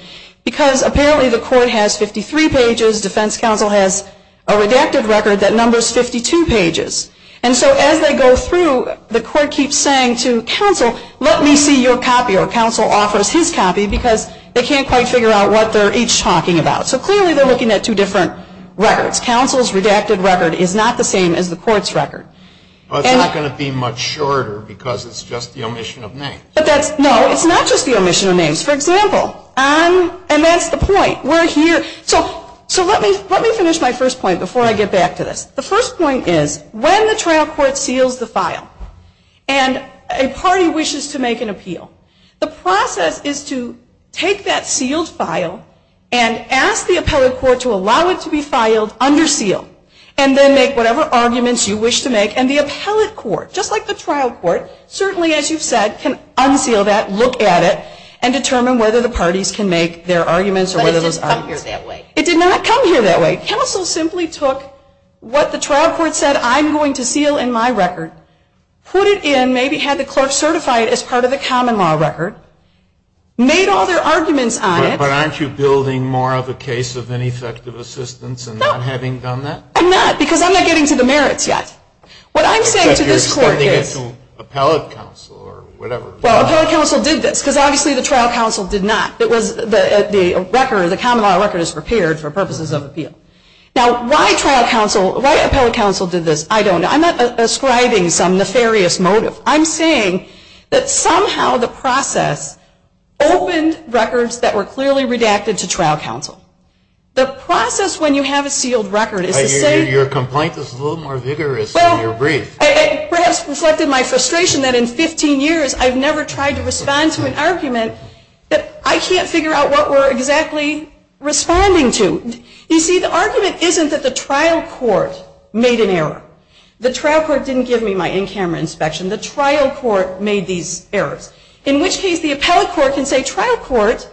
because apparently the court has 53 pages. Defense counsel has a redacted record that numbers 52 pages. And so as they go through, the court keeps saying to counsel, let me see your copy. Or counsel offers his copy, because they can't quite figure out what they're each talking about. So clearly, they're looking at two different records. Counsel's redacted record is not the same as the court's record. Well, it's not going to be much shorter, because it's just the omission of names. No, it's not just the omission of names. For example, and that's the point. So let me finish my first point before I get back to this. The first point is, when the trial court seals the file and a party wishes to make an appeal, the process is to take that sealed file and ask the appellate court to allow it to be filed under seal and then make whatever arguments you wish to make. And the appellate court, just like the trial court, certainly, as you've said, can unseal that, look at it, and determine whether the parties can make their arguments or whether those arguments. But it didn't come here that way. It did not come here that way. Counsel simply took what the trial court said I'm going to seal in my record, put it in, maybe had the clerk certify it as part of the common law record, made all their arguments on it. But aren't you building more of a case of ineffective assistance and not having done that? I'm not, because I'm not getting to the merits yet. What I'm saying to this court is. Except you're expecting it to appellate counsel or whatever. Well, appellate counsel did this, because obviously, the trial counsel did not. The record, the common law record is prepared for purposes of appeal. Now, why appellate counsel did this, I don't know. I'm not ascribing some nefarious motive. I'm saying that somehow the process opened records that were clearly redacted to trial counsel. The process when you have a sealed record is to say. Your complaint is a little more vigorous than your brief. Perhaps reflected my frustration that in 15 years, I've never tried to respond to an argument that I can't figure out what we're exactly responding to. You see, the argument isn't that the trial court made an error. The trial court didn't give me my in-camera inspection. The trial court made these errors. In which case, the appellate court can say, trial court,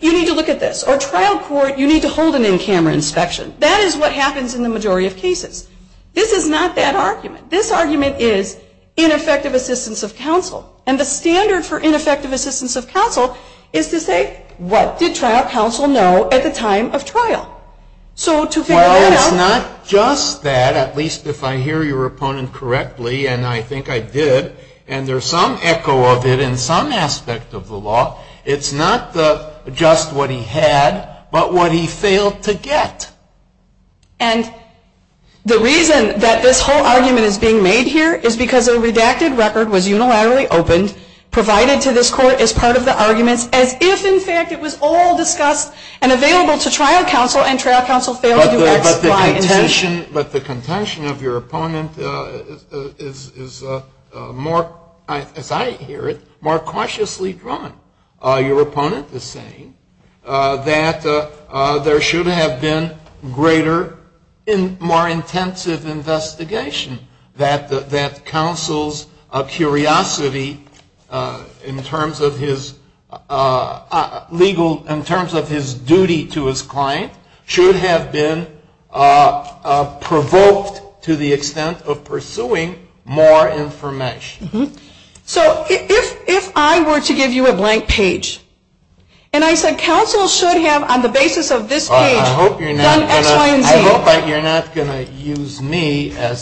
you need to look at this. Or trial court, you need to hold an in-camera inspection. That is what happens in the majority of cases. This is not that argument. This argument is ineffective assistance of counsel. And the standard for ineffective assistance of counsel is to say, what did trial counsel know at the time of trial? So to figure that out. Well, it's not just that. At least if I hear your opponent correctly, and I think I did. And there's some echo of it in some aspect of the law. It's not just what he had, but what he failed to get. And the reason that this whole argument is being made here is because a redacted record was unilaterally opened, provided to this court as part of the arguments, as if, in fact, it was all discussed and available to trial counsel. And trial counsel failed to explain intention. But the contention of your opponent is more, as I hear it, more cautiously drawn. Your opponent is saying that there should have been greater and more intensive investigation. That counsel's curiosity, in terms of his legal, in terms of his duty to his client, should have been provoked to the extent of pursuing more information. So if I were to give you a blank page, and I said, counsel should have, on the basis of this page, done X, Y, and Z. You're not going to use me as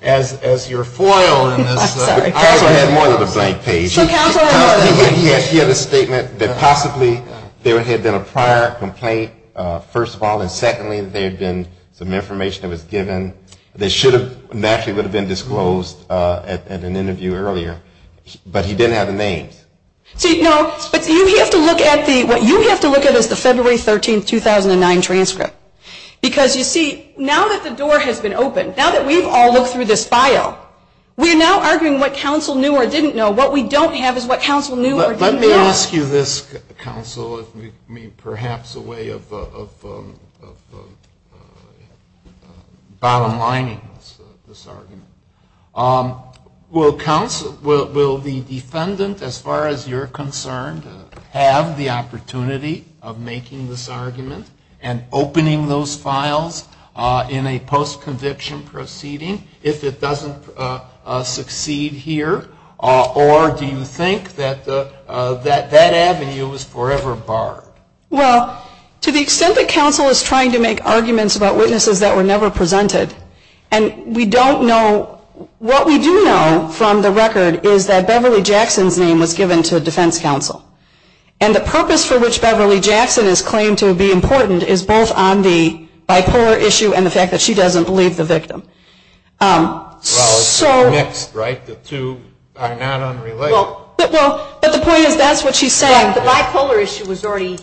your foil in this. Counsel had more than a blank page. He had a statement that possibly there had been a prior complaint, first of all. And secondly, there had been some information that was given that naturally would have been disclosed at an interview earlier. But he didn't have the names. But you have to look at the, what you have to look at is the February 13, 2009 transcript. Because you see, now that the door has been opened, now that we've all looked through this file, we're now arguing what counsel knew or didn't know. What we don't have is what counsel knew or didn't know. Let me ask you this, counsel, as perhaps a way of bottom lining this argument. Will counsel, will the defendant, as far as you're concerned, have the opportunity of making this argument and opening those files in a post-conviction proceeding if it doesn't succeed here? Or do you think that that avenue was forever barred? Well, to the extent that counsel is trying to make arguments about witnesses that were never presented, and we don't know, what we do know from the record is that Beverly Jackson's name was given to defense counsel. And the purpose for which Beverly Jackson is claimed to be important is both on the bipolar issue and the fact that she doesn't believe the victim. Well, it's mixed, right? The two are not unrelated. Well, but the point is, that's what she's saying. The bipolar issue was already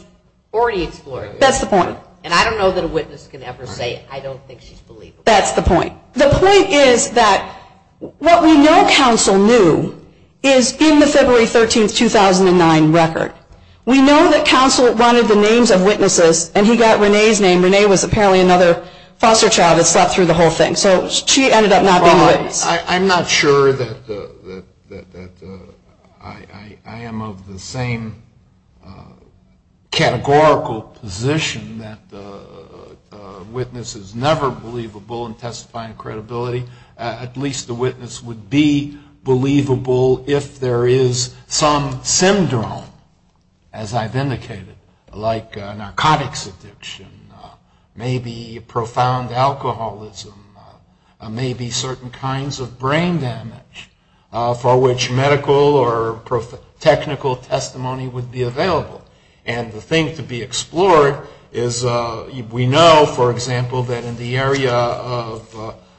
explored. That's the point. And I don't know that a witness can ever say, I don't think she's believable. That's the point. The point is that what we know counsel knew is in the February 13, 2009 record. We know that counsel wanted the names of witnesses, and he got Renee's name. Renee was apparently another foster child that slept through the whole thing. So she ended up not being a witness. I'm not sure that I am of the same categorical position that a witness is never believable in testifying credibility. At least the witness would be believable if there is some syndrome, as I've indicated, like narcotics addiction, maybe profound alcoholism, maybe certain kinds of brain damage for which medical or technical testimony would be available. And the thing to be explored is we know, for example, that in the area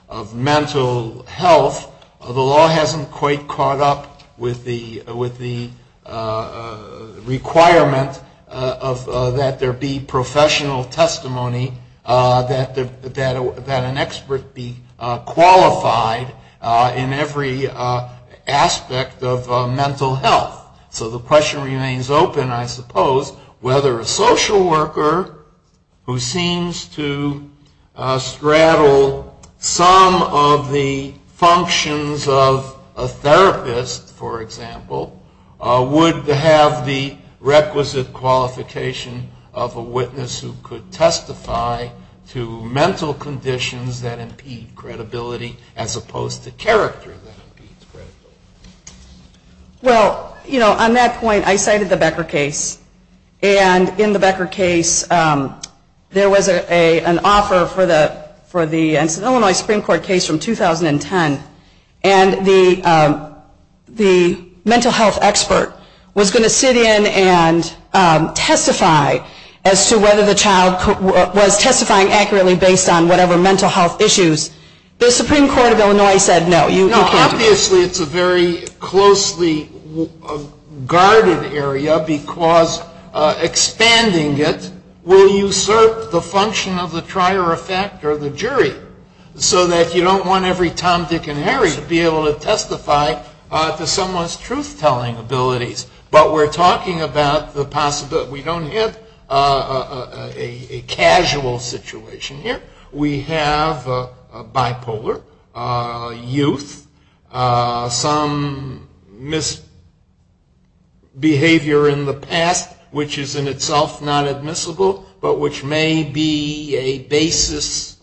of mental health, the law hasn't quite caught up with the requirement that there be professional testimony, that an expert be qualified in every aspect of mental health. So the question remains open, I suppose, whether a social worker who seems to straddle some of the functions of a therapist, for example, would have the requisite qualification of a witness who could testify to mental conditions that impede credibility, as opposed to character that impedes credibility. Well, you know, on that point, I cited the Becker case. And in the Becker case, there was an offer for the Illinois Supreme Court case from 2010. And the mental health expert was going to sit in and testify as to whether the child was testifying accurately based on whatever mental health issues. Obviously, it's a very closely guarded area, because expanding it will usurp the function of the trier effect or the jury, so that you don't want every Tom, Dick, and Harry to be able to testify to someone's truth-telling abilities. But we're talking about the possibility. We don't have a casual situation here. We have a bipolar youth, some misbehavior in the past, which is in itself not admissible, but which may be a basis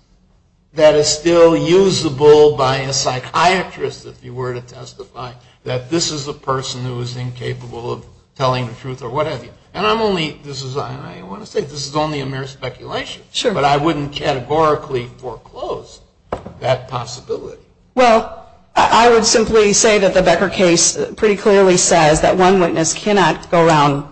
that is still usable by a psychiatrist, if you were to testify, that this is a person who is incapable of telling the truth or what have you. And I'm only, this is, I want to say, this is only a mere speculation. But I wouldn't categorically foreclose that possibility. Well, I would simply say that the Becker case pretty clearly says that one witness cannot go around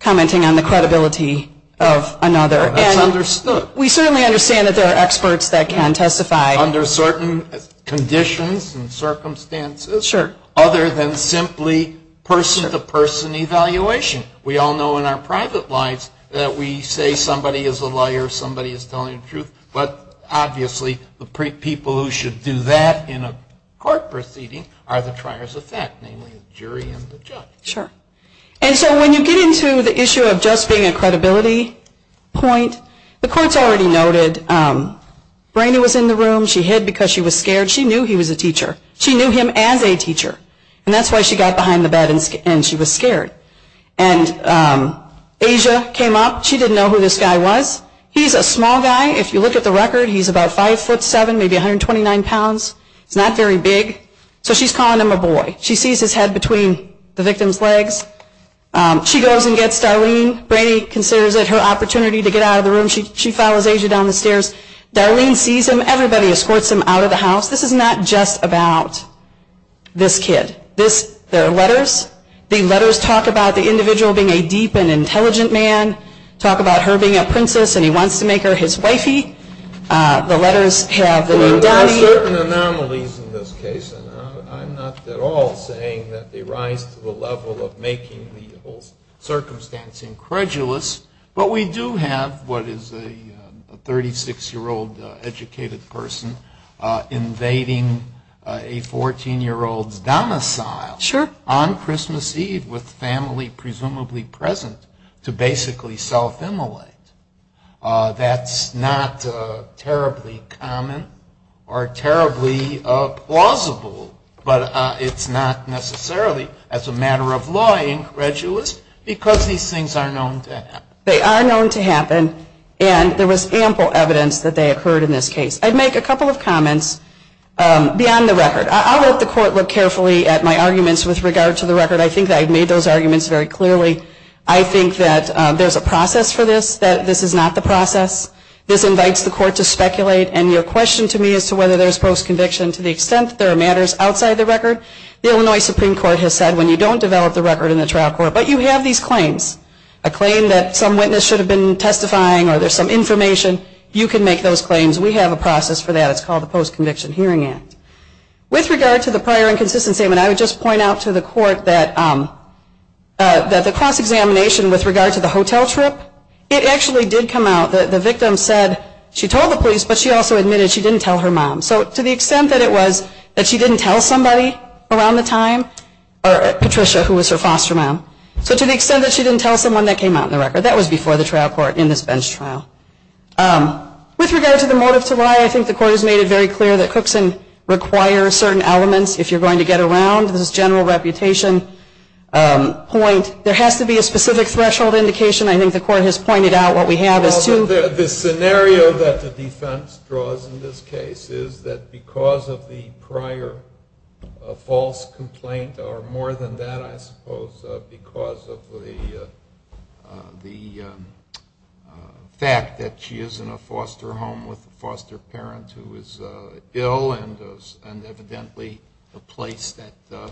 commenting on the credibility of another. That's understood. We certainly understand that there are experts that can testify. Under certain conditions and circumstances, other than simply person-to-person evaluation. We all know in our private lives that we say somebody is a liar, somebody is telling the truth. But obviously, the people who should do that in a court proceeding are the triers of fact, namely the jury and the judge. Sure. And so when you get into the issue of just being a credibility point, the court's already noted. Brainerd was in the room. She hid because she was scared. She knew he was a teacher. She knew him as a teacher. And that's why she got behind the bed and she was scared. And Asia came up. She didn't know who this guy was. He's a small guy. If you look at the record, he's about 5 foot 7, maybe 129 pounds. He's not very big. So she's calling him a boy. She sees his head between the victim's legs. She goes and gets Darlene. Brainerd considers it her opportunity to get out of the room. She follows Asia down the stairs. Darlene sees him. Everybody escorts him out of the house. This is not just about this kid. There are letters. The letters talk about the individual being a deep and intelligent man. Talk about her being a princess and he wants to make her his wifey. The letters have the name Donny. There are certain anomalies in this case. I'm not at all saying that they rise to the level of making the whole circumstance incredulous. But we do have what is a 36-year-old educated person invading a 14-year-old's domicile on Christmas Eve with family presumably present to basically self-immolate. That's not terribly common or terribly plausible. But it's not necessarily, as a matter of law, incredulous because these things are known to happen. They are known to happen. And there was ample evidence that they occurred in this case. I'd make a couple of comments beyond the record. I'll let the court look carefully at my arguments with regard to the record. I think that I've made those arguments very clearly. I think that there's a process for this, that this is not the process. This invites the court to speculate. And your question to me as to whether there's post-conviction to the extent that there are matters outside the record, the Illinois Supreme Court has said, when you don't develop the record in the trial court, but you have these claims, a claim that some witness should have been testifying or there's some information, you can make those claims. We have a process for that. It's called the Post-Conviction Hearing Act. With regard to the prior inconsistency amendment, I would just point out to the court that the cross-examination with regard to the hotel trip, it actually did come out that the victim said she told the police, but she also admitted she didn't tell her mom. So to the extent that it was that she didn't tell somebody around the time, or Patricia, who was her foster mom, so to the extent that she didn't tell someone that came out in the record, that was before the trial court in this bench trial. With regard to the motive to lie, I think the court has made it very clear that Cookson requires certain elements if you're going to get around this general reputation point. There has to be a specific threshold indication. I think the court has pointed out what we have is two. The scenario that the defense draws in this case is that because of the prior false complaint, or more than that, I suppose, because of the fact that she is in a foster home with a foster parent who is ill, and evidently the place that the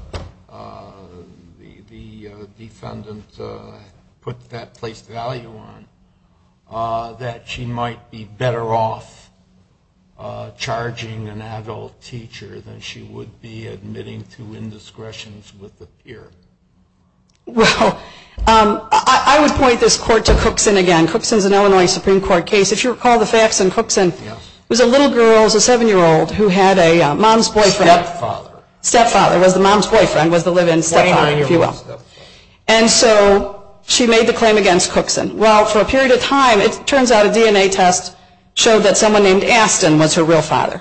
defendant put that place value on, that she might be better off charging an adult teacher than she would be admitting to indiscretions with the peer. Well, I would point this court to Cookson again. Cookson's an Illinois Supreme Court case. If you recall the facts in Cookson, it was a little girl, a seven-year-old, who had a mom's boyfriend. Stepfather. Stepfather was the mom's boyfriend, was the live-in stepfather, if you will. And so she made the claim against Cookson. Well, for a period of time, it turns out a DNA test showed that someone named Aston was her real father.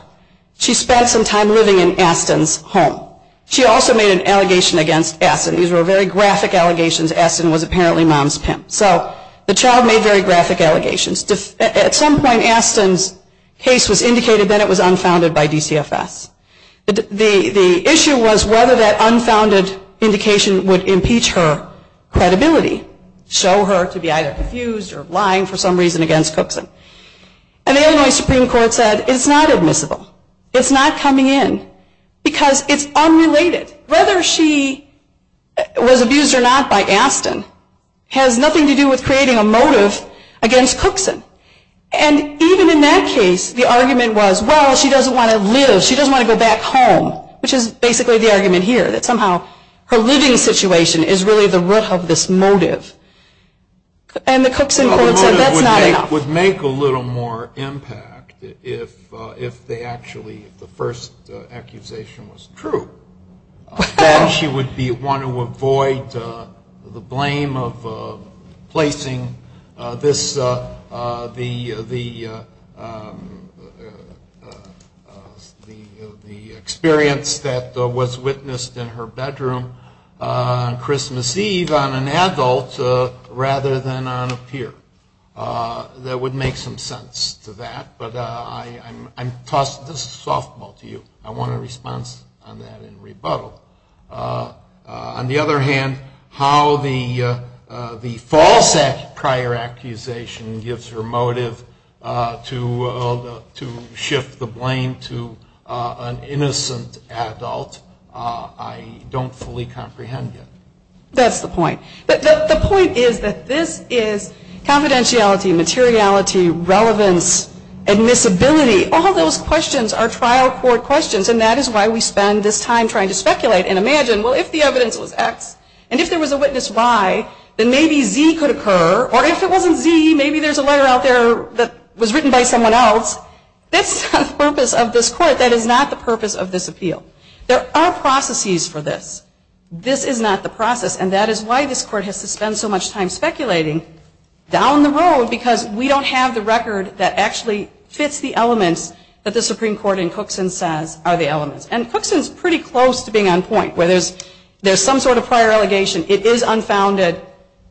She spent some time living in Aston's home. She also made an allegation against Aston. These were very graphic allegations. Aston was apparently mom's pimp. So the child made very graphic allegations. At some point, Aston's case was indicated that it was unfounded by DCFS. The issue was whether that unfounded indication would impeach her credibility, show her to be either confused or lying for some reason against Cookson. And the Illinois Supreme Court said, it's not admissible. It's not coming in because it's unrelated. Whether she was abused or not by Aston has nothing to do with creating a motive against Cookson. And even in that case, the argument was, well, she doesn't want to live. She doesn't want to go back home, which is basically the argument here, that somehow her living situation is really the root of this motive. And the Cookson court said, that's not enough. Would make a little more impact if the first accusation was true, that she would want to avoid the blame of placing the experience that was witnessed in her bedroom on Christmas Eve on an adult rather than on a peer. That would make some sense to that. But I'm tossing this softball to you. I want a response on that in rebuttal. On the other hand, how the false prior accusation gives her motive to shift the blame to an innocent adult, I don't fully comprehend yet. That's the point. The point is that this is confidentiality, materiality, relevance, admissibility. All those questions are trial court questions, and that is why we spend this time trying to speculate and imagine, well, if the evidence was X, and if there was a witness Y, then maybe Z could occur. Or if it wasn't Z, maybe there's a letter out there that was written by someone else. That's not the purpose of this court. That is not the purpose of this appeal. There are processes for this. This is not the process, and that is why this court has to spend so much time speculating down the road, because we don't have the record that actually states the elements that the Supreme Court in Cookson says are the elements. And Cookson's pretty close to being on point, where there's some sort of prior allegation. It is unfounded.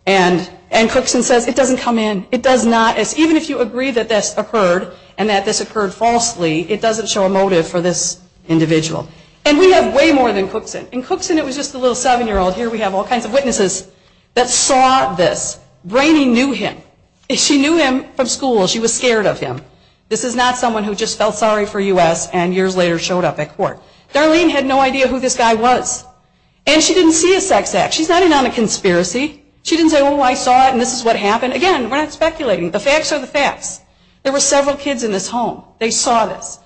And Cookson says, it doesn't come in. It does not. Even if you agree that this occurred and that this occurred falsely, it doesn't show a motive for this individual. And we have way more than Cookson. In Cookson, it was just a little seven-year-old. Here we have all kinds of witnesses that saw this. Brainy knew him. She knew him from school. She was scared of him. This is not someone who just felt sorry for US and years later showed up at court. Darlene had no idea who this guy was. And she didn't see a sex act. She's not in on a conspiracy. She didn't say, oh, I saw it, and this is what happened. Again, we're not speculating. The facts are the facts. There were several kids in this home. They saw this.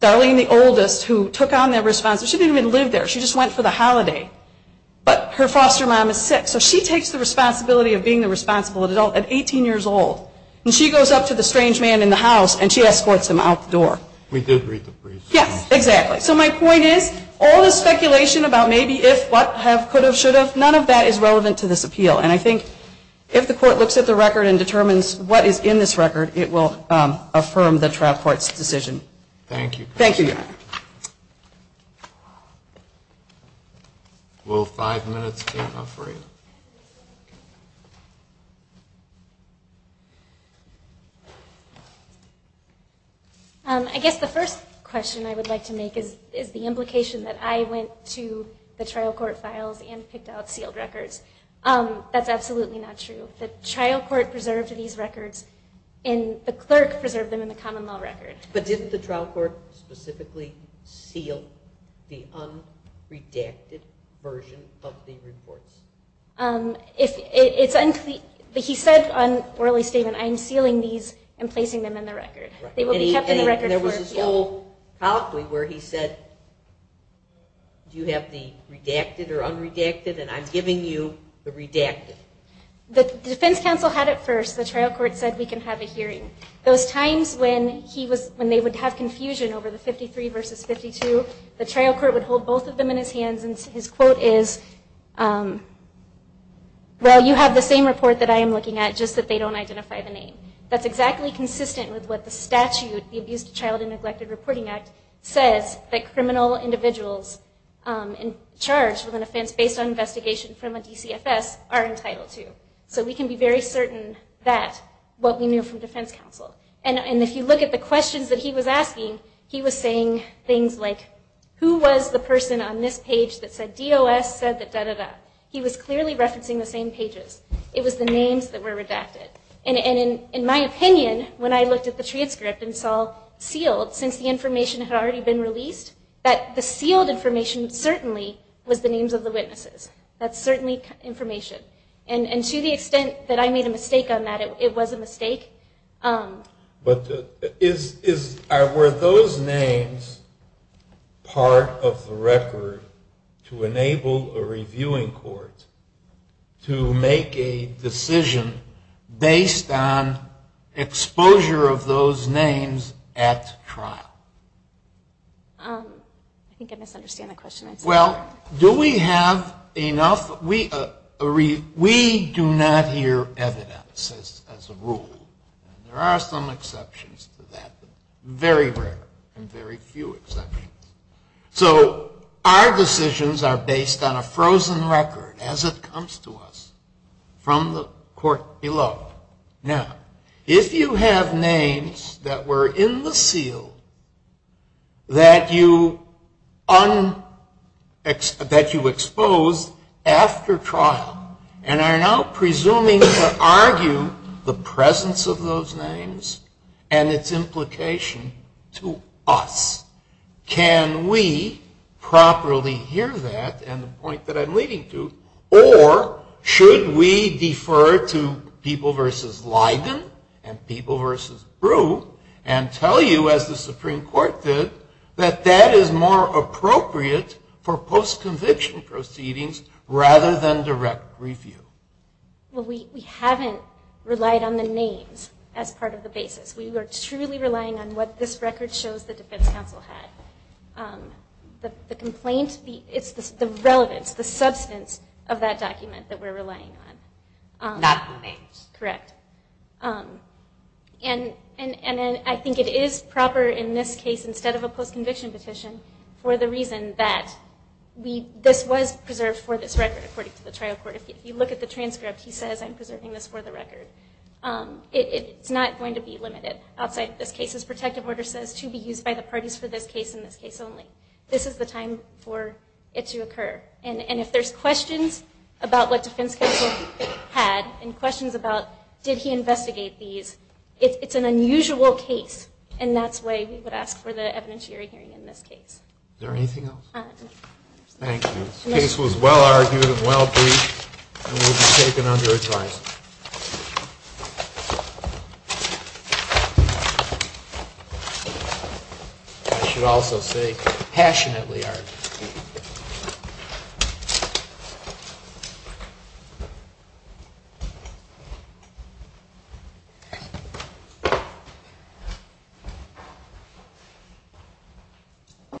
Darlene, the oldest, who took on that responsibility, she didn't even live there. She just went for the holiday. But her foster mom is sick, so she takes the responsibility of being the responsible adult at 18 years old. And she goes up to the strange man in the house, and she escorts him out the door. We did read the briefs. Yes, exactly. So my point is, all this speculation about maybe if, what, have, could have, should have, none of that is relevant to this appeal. And I think if the court looks at the record and determines what is in this record, it will affirm the trial court's decision. Thank you. Thank you, Your Honor. Will five minutes be enough for you? Thank you. I guess the first question I would like to make is the implication that I went to the trial court files and picked out sealed records. That's absolutely not true. The trial court preserved these records, and the clerk preserved them in the common law record. But didn't the trial court specifically seal the unredacted version of the reports? It's unclear. He said on orally statement, I am sealing these and placing them in the record. They will be kept in the record for appeal. And there was this whole colloquy where he said, do you have the redacted or unredacted, and I'm giving you the redacted. The defense counsel had it first. The trial court said, we can have a hearing. Those times when they would have confusion over the 53 versus 52, the trial court would hold both of them in his hands, and his quote is, well, you have the same report that I am looking at, just that they don't identify the name. That's exactly consistent with what the statute, the Abused Child and Neglected Reporting Act, says that criminal individuals charged with an offense based on investigation from a DCFS are entitled to. So we can be very certain that what we knew from defense counsel. And if you look at the questions that he was asking, he was saying things like, who was the person on this page that said, DOS said that, da, da, da. He was clearly referencing the same pages. It was the names that were redacted. And in my opinion, when I looked at the transcript and saw sealed, since the information had already been released, that the sealed information certainly was the names of the witnesses. That's certainly information. And to the extent that I made a mistake on that, it was a mistake. But were those names part of the record to enable a reviewing court to make a decision based on exposure of those names at trial? I think I misunderstand the question. Well, do we have enough? We do not hear evidence as a rule. There are some exceptions to that, but very rare and very few exceptions. So our decisions are based on a frozen record as it comes to us from the court below. Now, if you have names that were in the seal that you exposed after trial and are now presuming to argue the presence of those names and its implication to us, can we properly hear that? And the point that I'm leading to, or should we defer to people versus Leiden and people versus Breaux and tell you, as the Supreme Court did, that that is more appropriate for post-conviction proceedings rather than direct review? Well, we haven't relied on the names as part of the basis. We are truly relying on what this record shows the defense counsel had. The complaint, it's the relevance, the substance of that document that we're relying on. Not the names. Correct. And I think it is proper in this case, instead of a post-conviction petition, for the reason that this was preserved for this record, according to the trial court. If you look at the transcript, he says I'm preserving this for the record. It's not going to be limited outside of this case. His protective order says to be used by the parties for this case and this case only. This is the time for it to occur. And if there's questions about what defense counsel had and questions about did he investigate these, it's an unusual case. And that's why we would ask for the evidentiary hearing in this case. Is there anything else? Thank you. This case was well argued and well briefed and will be taken under a trial. I should also say, passionately argued.